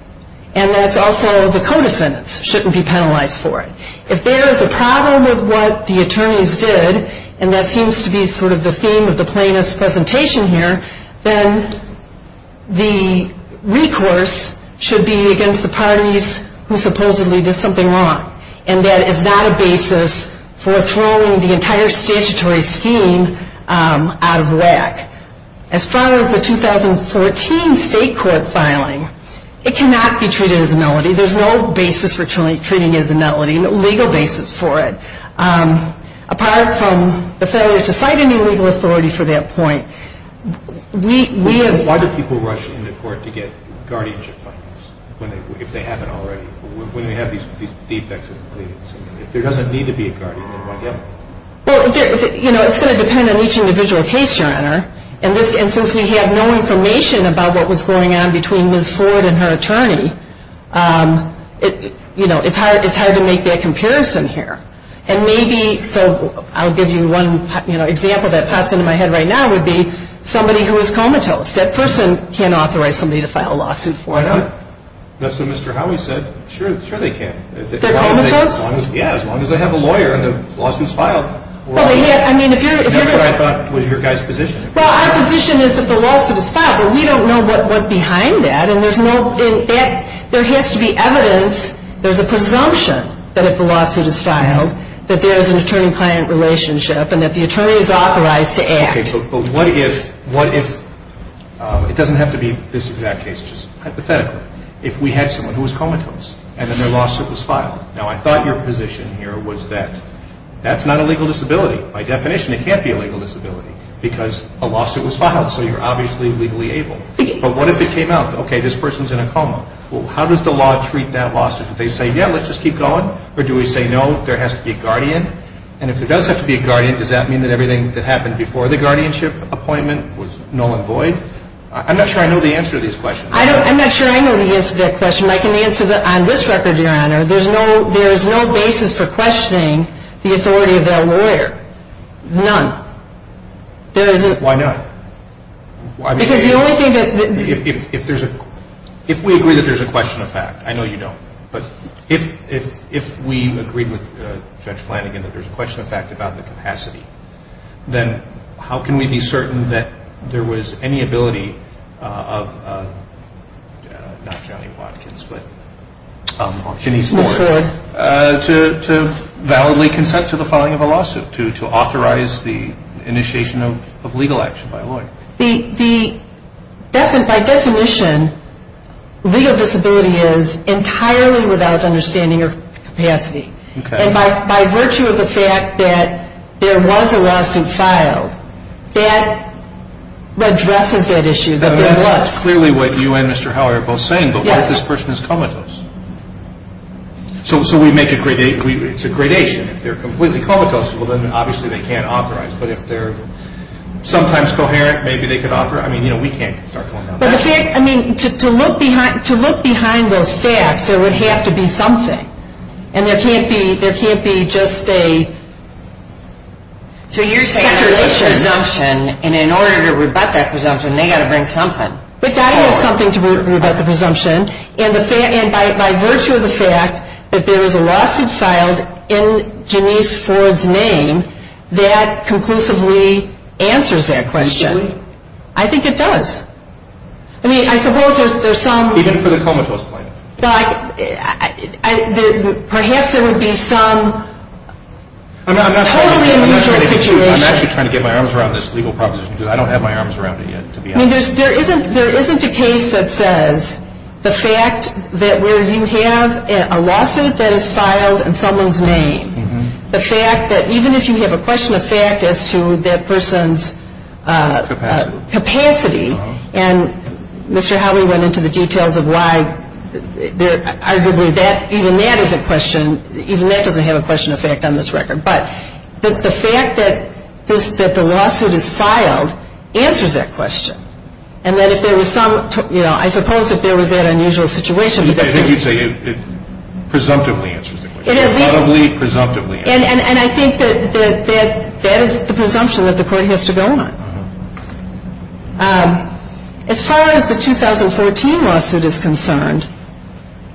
and that's also the co-descendants shouldn't be penalized for it. If there is a problem with what the attorneys did, and that seems to be sort of the theme of the plaintiff's presentation here, then the recourse should be against the parties who supposedly did something wrong and that is not a basis for throwing the entire statutory scheme out of whack. As far as the 2014 state court filing, it cannot be treated as a malady. There's no basis for treating it as a malady, no legal basis for it. Apart from the failure to find a new legal authority for that point, we have... Why do people rush into court to get guardianship funds if they haven't already? When you have these defects of the plaintiff's opinion? There doesn't need to be a guardianship fund yet. It's going to depend on each individual case, Your Honor. And since we have no information about what was going on between Liz Ford and her attorney, it's hard to make that comparison here. And maybe, so I'll give you one example that pops into my head right now would be somebody who is comatose. That person can't authorize somebody to file a lawsuit for them. That's what Mr. Howey said. Sure they can. Yeah, as long as they have a lawyer and the lawsuit is filed. That's what I thought was your guy's position. Well, our position is that the lawsuit is filed, but we don't know what's behind that. There has to be evidence. There's a presumption that if a lawsuit is filed that there is an attorney-client relationship and that the attorney is authorized to act. Okay, but what if, it doesn't have to be this exact case, just hypothetically, if we had someone who was comatose and then their lawsuit was filed? Now, I thought your position here was that that's not a legal disability. By definition, it can't be a legal disability because a lawsuit was filed. So you're obviously legally able. But what if it came out, okay, this person's in a coma? Well, how does the law treat that lawsuit? Do they say, yeah, let's just keep going? Or do we say, no, there has to be a guardian? And if there does have to be a guardian, does that mean that everything that happened before the guardianship appointment was null and void? I'm not sure I know the answer to this question. I'm not sure I know the answer to that question. I can answer that on this record, Your Honor, there is no basis for questioning the authority of that lawyer. None. Why not? Because the only thing that... If we agree that there's a question of fact, I know you don't, but if we agree with Judge Flanagan that there's a question of fact about the capacity, then how can we be certain that there was any ability of not Johnny Watkins, but Kenny's lawyer, to validly consent to the filing of a lawsuit, to authorize the initiation of legal action by a lawyer? By definition, legal disability is entirely without understanding or capacity. And by virtue of the fact that there was a lawsuit filed, that addresses that issue. That's clearly what you and Mr. Howard are both saying. But why has this person come at us? So we make a gradation. If they're completely comical, then obviously they can't operate. But if they're sometimes coherent, maybe they can operate. I mean, you know, we can't start talking about that. I mean, to look behind those facts, there would have to be something. And there can't be just a... So you're saying there's a presumption, and in order to rebut that presumption, they've got to bring something. They've got to have something to rebut the presumption. And by virtue of the fact that there was a lawsuit filed in Denise Ford's name that conclusively answers that question, I think it does. I mean, I suppose there's some... Even for the comicalist point. But perhaps there would be some totally unusual situation. I'm actually trying to get my arms around this legal process, because I don't have my arms around it yet, to be honest. There isn't a case that says the fact that where you have a lawsuit that is filed in someone's name, the fact that even if you have a question of fact as to that person's capacity, and Mr. Howley went into the details of why, arguably even that doesn't have a question of fact on this record. But the fact that the lawsuit is filed answers that question. And that if there was some... I suppose if there was that unusual situation... I think you're saying it presumptively answers the question. It is. Probably presumptively answers the question. And I think that that is the presumption that the court has to go on. As far as the 2014 lawsuit is concerned,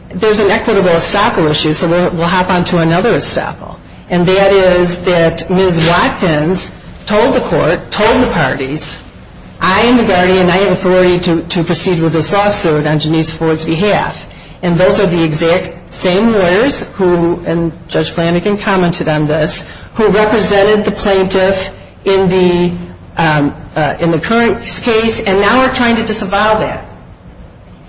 there's an equitable example issue, so we'll hop on to another example. And that is that Ms. Watkins told the court, told the parties, I am the guardian and I have authority to proceed with this lawsuit on Janice Ford's behalf. And those are the exact same lawyers who, and Judge Flanagan commented on this, who represented the plaintiffs in the current case, and now are trying to disavow that.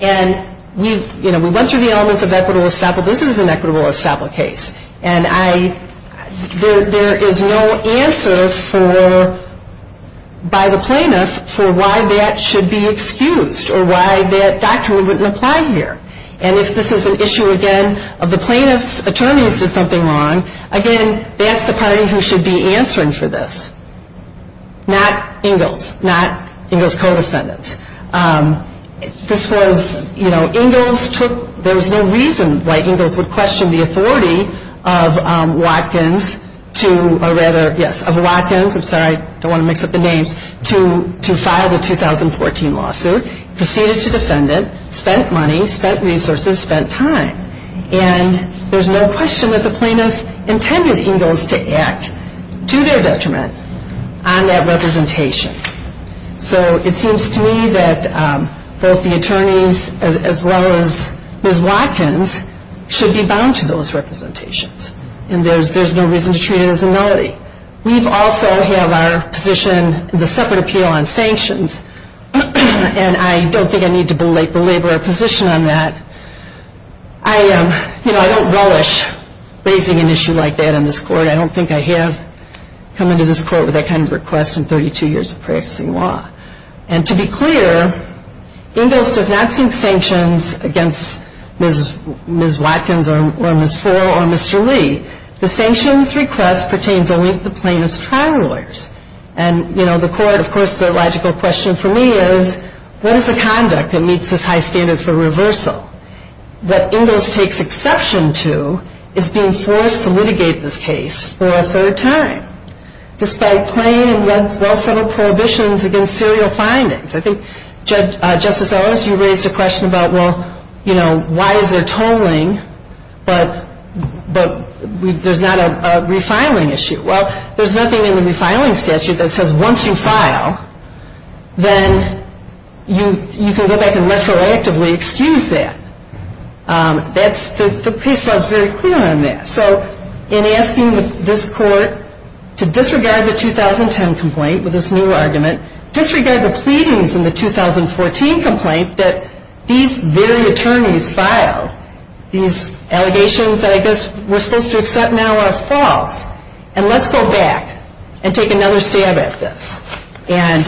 And we went through the elements of equitable estoppel. This is an equitable estoppel case. And there is no answer by the plaintiffs for why that should be excused or why that doctrine wouldn't apply here. And if this is an issue, again, of the plaintiffs' attorneys did something wrong, again, that's the party who should be answering for this. Not Ingalls. Not Ingalls' co-descendants. This was, you know, Ingalls took, there was no reason why Ingalls would question the authority of Watkins to, or rather, yes, of Watkins, I'm sorry, I don't want to mix up the names, to file the 2014 lawsuit, proceeded to descendant, spent money, spent resources, spent time. And there's no question that the plaintiffs intended Ingalls to act to their detriment on that representation. So it seems to me that both the attorneys as well as Ms. Watkins should be bound to those representations. And there's no reason to treat it as a nullity. We also have our position, the separate appeal on sanctions, and I don't think I need to belabor a position on that. I don't relish raising an issue like that in this court. I don't think I have come into this court with that kind of request in 32 years of practicing law. And to be clear, Ingalls does not seek sanctions against Ms. Watkins or Ms. Foerle or Mr. Lee. The sanctions request pertains only to the plaintiff's trial orders. And, you know, the court, of course, the logical question for me is, what is the conduct that meets this high standard for reversal? What Ingalls takes exception to is being forced to litigate this case for a third time, despite plain and well-settled prohibitions against serial findings. I think, Justice Ellis, you raised a question about, well, you know, why is there tolling, but there's not a refiling issue? Well, there's nothing in the refiling statute that says once you file, then you can look at it and retroactively excuse that. That's the case that was very clear on that. So in asking this court to disregard the 2010 complaint with this new argument, disregard the pleadings in the 2014 complaint that these very attorneys filed, these allegations that I guess we're supposed to accept now are false, and let's go back and take another stab at this. And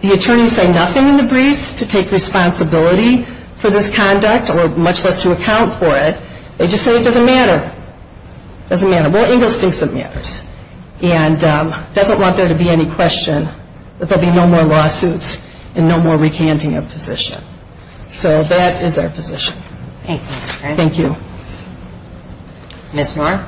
the attorneys say nothing in the briefs to take responsibility for this conduct or much less to account for it. They just say it doesn't matter. It doesn't matter. Well, Ingalls thinks it matters and doesn't want there to be any question that there be no more lawsuits and no more recanting of positions. So that is our position. Thank you. Thank you. Ms. Moore?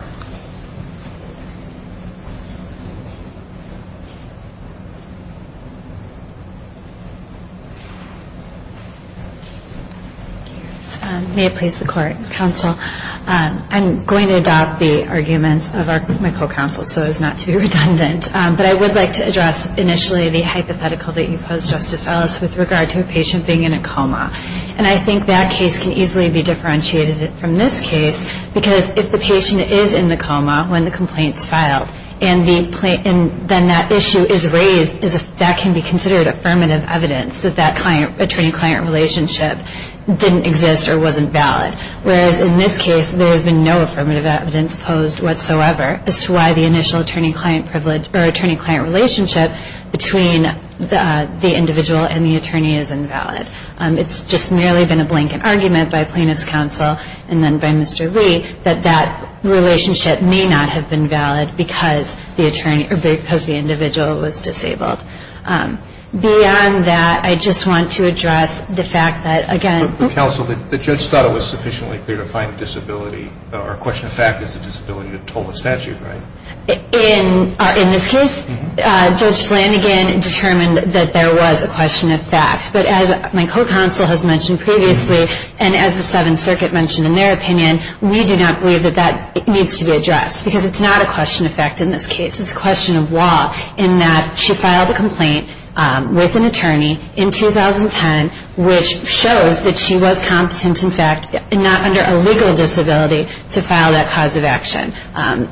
May it please the Court, Counsel, I'm going to adopt the argument of our clinical counsel, so as not to be redundant, but I would like to address initially the hypothetical that you posed, Justice Ellis, with regard to a patient being in a coma. And I think that case can easily be differentiated from this case because if the patient is in the coma when the complaint is filed and then that issue is raised, that can be considered affirmative evidence that that attorney-client relationship didn't exist or wasn't valid, whereas in this case there has been no affirmative evidence posed whatsoever as to why the initial attorney-client relationship between the individual and the attorney is invalid. It's just merely been a blanket argument by plaintiff's counsel and then by Mr. Lee that that relationship may not have been valid because the individual was disabled. Beyond that, I just want to address the fact that, again... Counsel, the judge thought it was sufficiently clear to find disability, or a question of fact is a disability of total statute, right? In this case, Judge Flanagan determined that there was a question of fact. But as my co-counsel has mentioned previously, and as the Seventh Circuit mentioned in their opinion, we do not believe that that needs to be addressed because it's not a question of fact in this case. It's a question of law in that she filed a complaint with an attorney in 2010 which shows that she was competent in fact, not under a legal disability to file that cause of action.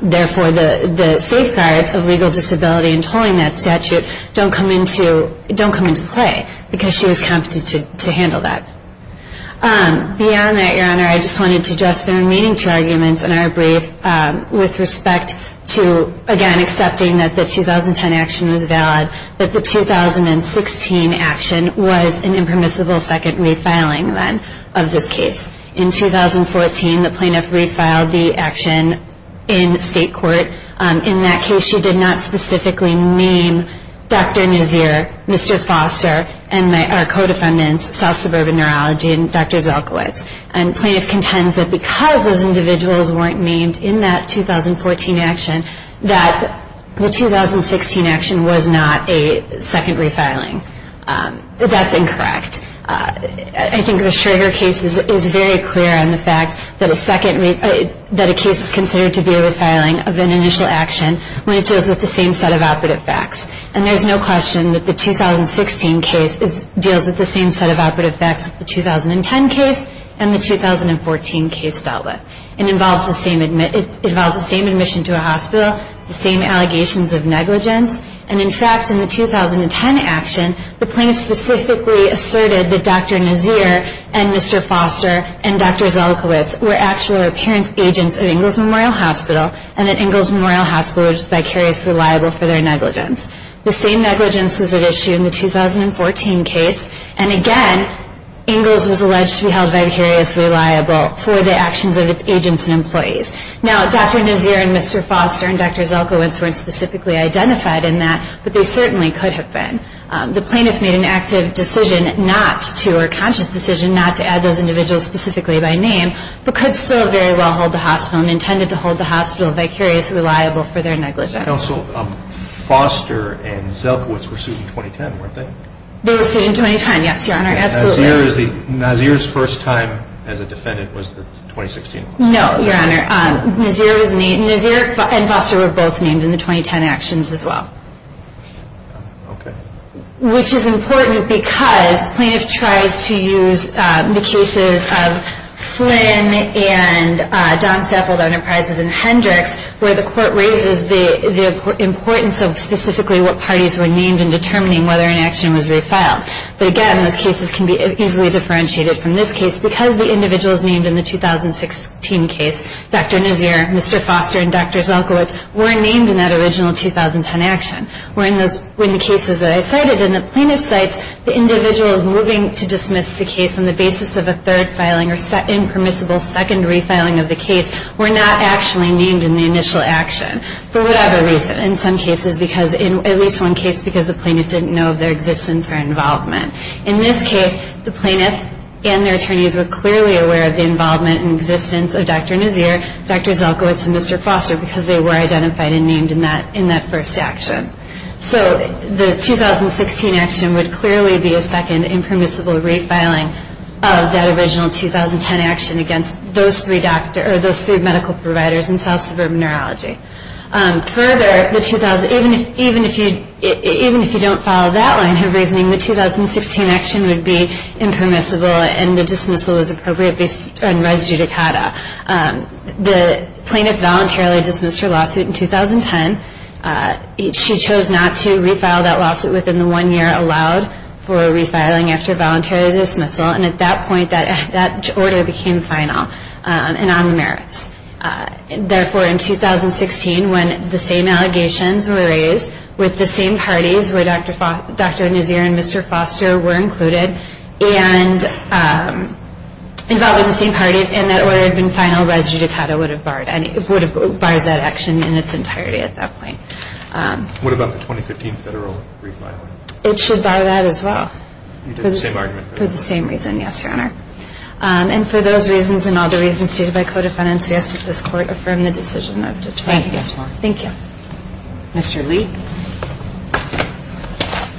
Therefore, the safeguards of legal disability and tolling that statute don't come into play because she was competent to handle that. Beyond that, Your Honor, I just wanted to address the remaining two arguments in our brief with respect to, again, accepting that the 2010 action was valid, that the 2016 action was an impermissible second refiling of this case. In 2014, the plaintiff refiled the action in state court. In that case, she did not specifically name Dr. Nazir, Mr. Foster, and our co-defendants, South Suburban Neurology and Dr. Gilkwood. And plaintiff contends that because those individuals weren't named in that 2014 action, that the 2016 action was not a second refiling. That's incorrect. I think the Schroeder case is very clear on the fact that a case is considered to be a refiling of an initial action when it deals with the same set of operative facts. And there's no question that the 2016 case deals with the same set of operative facts as the 2010 case and the 2014 case dealt with. It involves the same admission to a hospital, the same allegations of negligence. And, in fact, in the 2010 action, the plaintiff specifically asserted that Dr. Nazir and Mr. Foster and Dr. Zelikowicz were actual appearance agents at Ingalls Memorial Hospital and that Ingalls Memorial Hospital was vicariously liable for their negligence. The same negligence was at issue in the 2014 case. And, again, Ingalls was alleged to be held vicariously liable for the actions of its agents and employees. Now, Dr. Nazir and Mr. Foster and Dr. Zelikowicz weren't specifically identified in that, but they certainly could have been. The plaintiff made an active decision not to, or a conscious decision not to, add those individuals specifically by name, but could still very well hold the hospital and intended to hold the hospital vicariously liable for their negligence. Counsel, Foster and Zelikowicz were sued in 2010, weren't they? They were sued in 2010, yes, Your Honor, absolutely. Nazir's first time as a defendant was the 2016 one. No, Your Honor, Nazir and Dr. were both named in the 2010 actions as well, which is important because the plaintiff tried to use the cases of Flynn and John Stafford Enterprises and Hendricks where the court raises the importance of specifically what parties were named in determining whether an action was resiled. But, again, those cases can be easily differentiated from this case because the individuals named in the 2016 case, Dr. Nazir, Mr. Foster, and Dr. Zelikowicz, weren't named in that original 2010 action. When the cases that I cited in the plaintiff's case, the individuals moving to dismiss the case on the basis of a third filing or impermissible second refiling of the case were not actually named in the initial action for whatever reason. In some cases, at least one case, because the plaintiff didn't know of their existence or involvement. In this case, the plaintiff and their attorneys were clearly aware of the involvement and existence of Dr. Nazir, Dr. Zelikowicz, and Mr. Foster because they were identified and named in that first action. So the 2016 action would clearly be a second impermissible refiling of that original 2010 action against those three medical providers in South Suburban Neurology. Further, even if you don't follow that one for reasoning, the 2016 action would be impermissible and the dismissal is appropriate and res judicata. The plaintiff voluntarily dismissed her lawsuit in 2010. She chose not to refile that lawsuit within the one year allowed for refiling after voluntary dismissal, and at that point, that order became final and on the merits. Therefore, in 2016, when the same allegations were raised with the same parties where Dr. Nazir and Mr. Foster were included and involved in the same parties, and that order had been final, res judicata would have barred that action in its entirety at that point. What about the 2015 federal refiling? It should buy that as well for the same reason, yes, Your Honor. And for those reasons and all the reasons stated by Code of Financiers, does this Court affirm the decision of the charge against her? Thank you. Mr. Lee?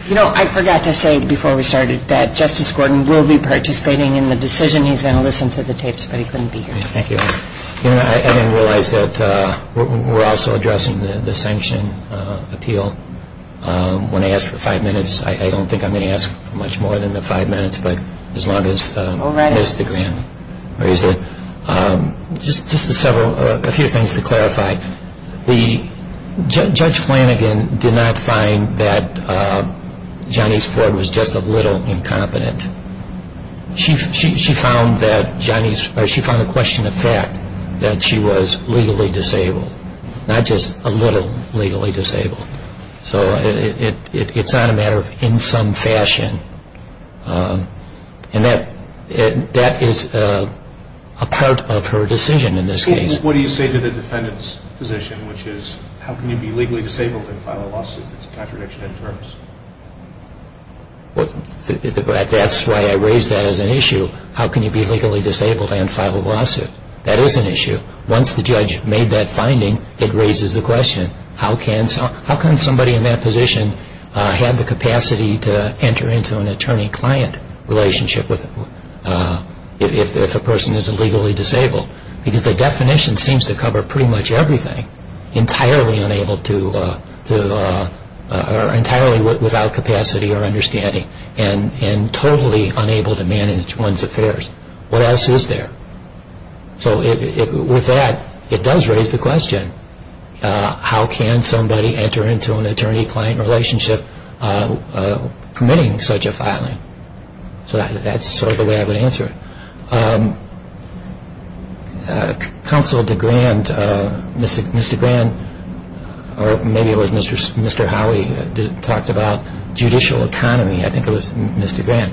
You know, I forgot to say before we started that Justice Gordon will be participating in the decision. He's going to listen to the tapes, but he's going to be here. Thank you. I didn't realize that we're also addressing the sanction appeal. When I asked for five minutes, I don't think I'm going to ask for much more than the five minutes, but as long as the grant is raised. Just a few things to clarify. Judge Flanagan did not find that Johnny's court was just a little incompetent. She found a question of fact, that she was legally disabled, not just a little legally disabled. So it's not a matter of in some fashion. And that is a part of her decision in this case. What do you say to the defendant's position, which is, how can you be legally disabled in a final lawsuit? It's a contradiction in terms. That's why I raised that as an issue. How can you be legally disabled in a final lawsuit? That is an issue. Once the judge made that finding, it raises the question, how can somebody in that position have the capacity to enter into an attorney-client relationship if a person isn't legally disabled? Because the definition seems to cover pretty much everything. Entirely unable to or entirely without capacity or understanding and totally unable to manage one's affairs. What else is there? So with that, it does raise the question, how can somebody enter into an attorney-client relationship committing such a filing? So that's sort of the way I would answer it. Counsel DeGrand, Mr. DeGrand, or maybe it was Mr. Howie, talked about judicial economy. I think it was Mr. DeGrand.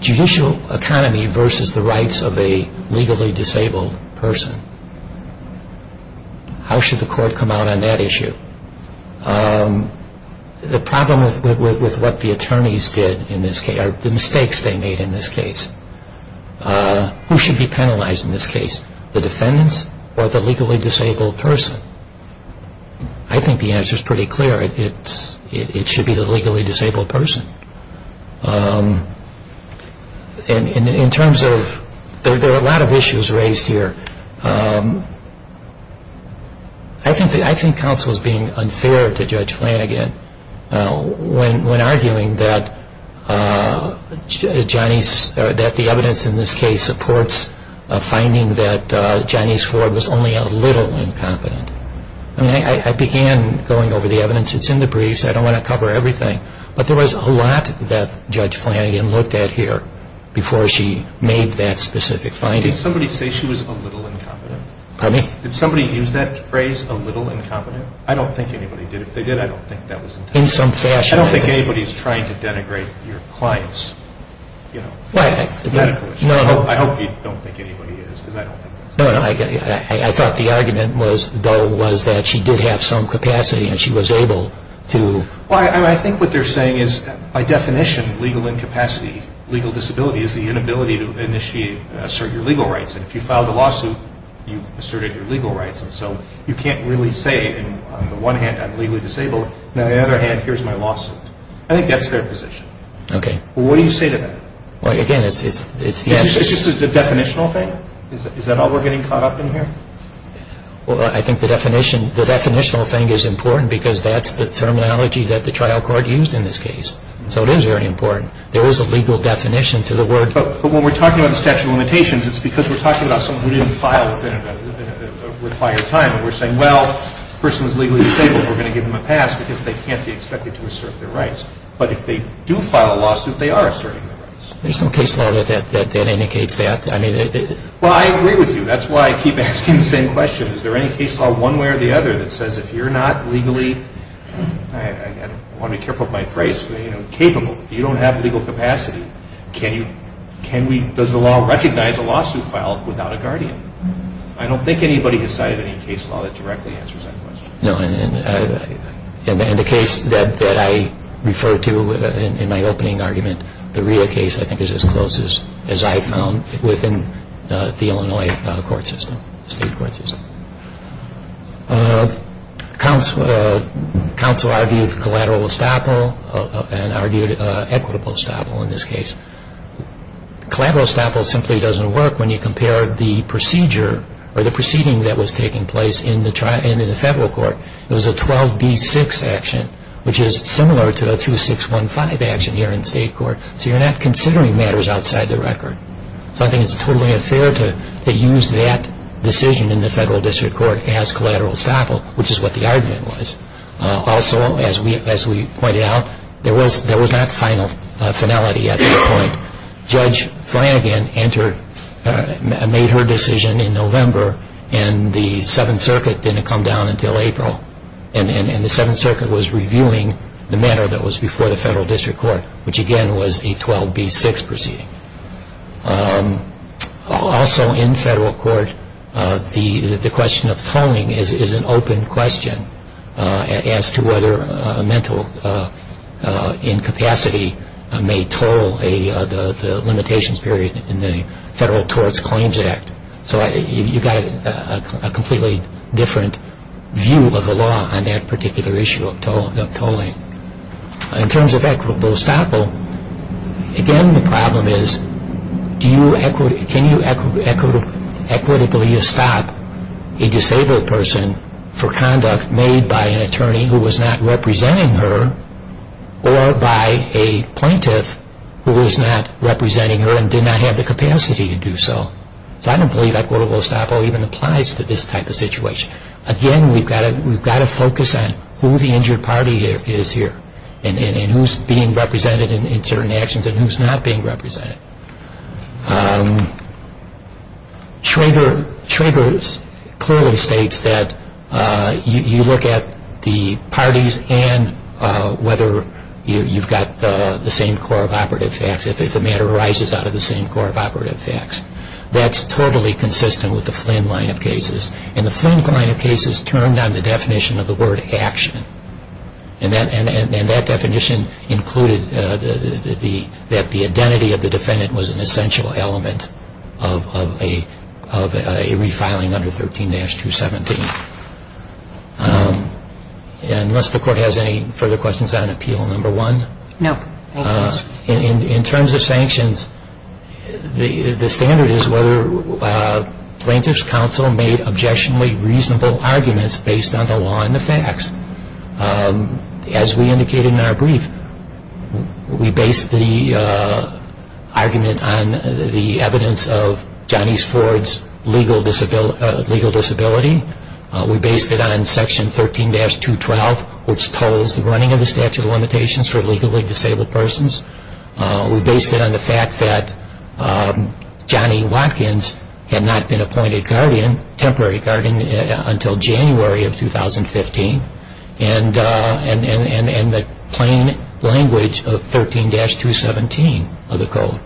Judicial economy versus the rights of a legally disabled person. How should the court come out on that issue? The problem with what the attorneys did in this case, or the mistakes they made in this case. Who should be penalized in this case? The defendants or the legally disabled person? I think the answer is pretty clear. It should be the legally disabled person. In terms of, there are a lot of issues raised here. I think counsel is being unfair to Judge Flanagan when arguing that the evidence in this case supports a finding that Janice Ford was only a little incompetent. I began going over the evidence. It's in the briefs. I don't want to cover everything. But there was a lot that Judge Flanagan looked at here before she made that specific finding. Did somebody say she was a little incompetent? Pardon me? Did somebody use that phrase, a little incompetent? I don't think anybody did. If they did, I don't think that was intended. In some fashion. I don't think anybody's trying to denigrate your clients. I hope you don't think anybody is. I thought the argument though was that she did have some capacity and she was able to... I think what they're saying is, by definition, legal incapacity, legal disability, is the inability to initiate and assert your legal rights. If you filed a lawsuit, you asserted your legal rights. So you can't really say, on the one hand, I'm legally disabled. On the other hand, here's my lawsuit. I think that's their position. Okay. What do you say to that? Again, it's... It's just the definitional thing? Is that all we're getting caught up in here? Well, I think the definitional thing is important because that's the terminology that the trial court used in this case. So it is very important. There was a legal definition to the word... But when we're talking about the statute of limitations, it's because we're talking about somebody who didn't file within a required time. We're saying, well, the person is legally disabled, we're going to give them a pass because they can't be expected to assert their rights. But if they do file a lawsuit, they are asserting their rights. There's no case law that indicates that. I mean... Well, I agree with you. That's why I keep asking the same question. Is there any case law one way or the other that says if you're not legally... I want to be careful with my phrase, but, you know, capable. If you don't have legal capacity, can we... Does the law recognize a lawsuit filed without a guardian? I don't think anybody decided any case law that directly answers that question. In the case that I referred to in my opening argument, the RIA case I think is as close as I've found within the Illinois court system, state court system. Counsel argued collateral estoppel and argued equitable estoppel in this case. Collateral estoppel simply doesn't work when you compare the procedure or the proceeding that was taking place in the federal court. It was a 12B6 action, which is similar to the 2615 action here in state court. So you're not considering matters outside the record. I think it's totally unfair to use that decision in the federal district court as collateral estoppel, which is what the argument was. Also, as we pointed out, there was not finality at this point. Judge Flanagan entered, made her decision in November, and the Seventh Circuit didn't come down until April. And the Seventh Circuit was reviewing the matter that was before the federal district court, which again was a 12B6 proceeding. Also in federal court, the question of tolling is an open question as to whether a mental incapacity may toll the limitations period in the Federal Courts Claims Act. So you've got a completely different view of the law on that particular issue of tolling. In terms of equitable estoppel, again the problem is, can you equitably estop a disabled person for conduct made by an attorney who was not representing her or by a plaintiff who was not representing her and did not have the capacity to do so? So I don't believe equitable estoppel even applies to this type of situation. Again, we've got to focus on who the injured party is here and who's being represented in certain actions and who's not being represented. Trigger clearly states that you look at the parties and whether you've got the same core of operative facts if a matter arises out of the same core of operative facts. That's totally consistent with the Flynn line of cases. And the Flynn line of cases turned on the definition of the word action. And that definition included that the identity of the defendant was an essential element of a refiling under 13-217. Unless the Court has any further questions on Appeal No. 1? No. In terms of sanctions, the standard is where plaintiff's counsel made objectionably reasonable arguments based on the law and the facts. As we indicated in our brief, we based the argument on the evidence of Johnny Ford's legal disability. We based it on Section 13-212, which calls the running of the statute of limitations for legally disabled persons. We based it on the fact that Johnny Watkins had not been appointed temporary guardian until January of 2015 and the plain language of 13-217 of the Code,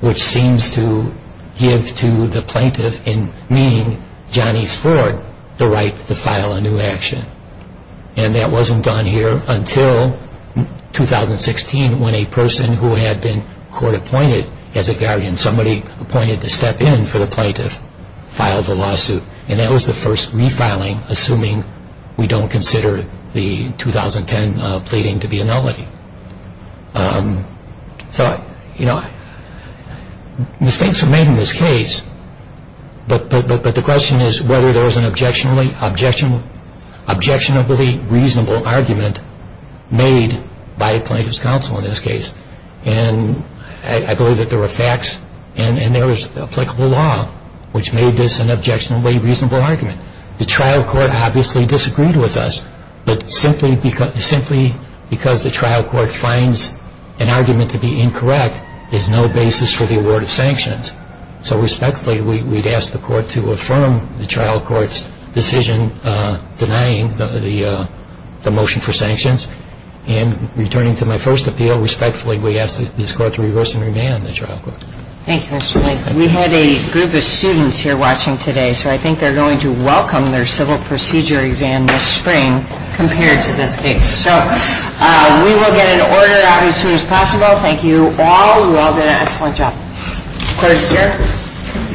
which seems to give to the plaintiff in meaning Johnny Ford the right to file a new action. And that wasn't done here until 2016, when a person who had been court appointed as a guardian, somebody appointed to step in for the plaintiff, filed the lawsuit. And that was the first refiling, assuming we don't consider the 2010 pleading to be a nullity. Mistakes were made in this case, but the question is whether there was an objectionably reasonable argument made by a plaintiff's counsel in this case. And I believe that there were facts and there was applicable law which made this an objectionably reasonable argument. The trial court obviously disagreed with us, but simply because the trial court finds an argument to be incorrect is no basis for the award of sanctions. So respectfully, we'd ask the court to affirm the trial court's decision denying the motion for sanctions. And returning to my first appeal, respectfully, we ask this court to reverse and revamp the trial court. Thank you, Mr. Blake. We had a group of students here watching today, so I think they're going to welcome their civil procedure exam this spring compared to this case. So we will get it ordered out as soon as possible. Thank you all. We all did an excellent job. Questions, sir?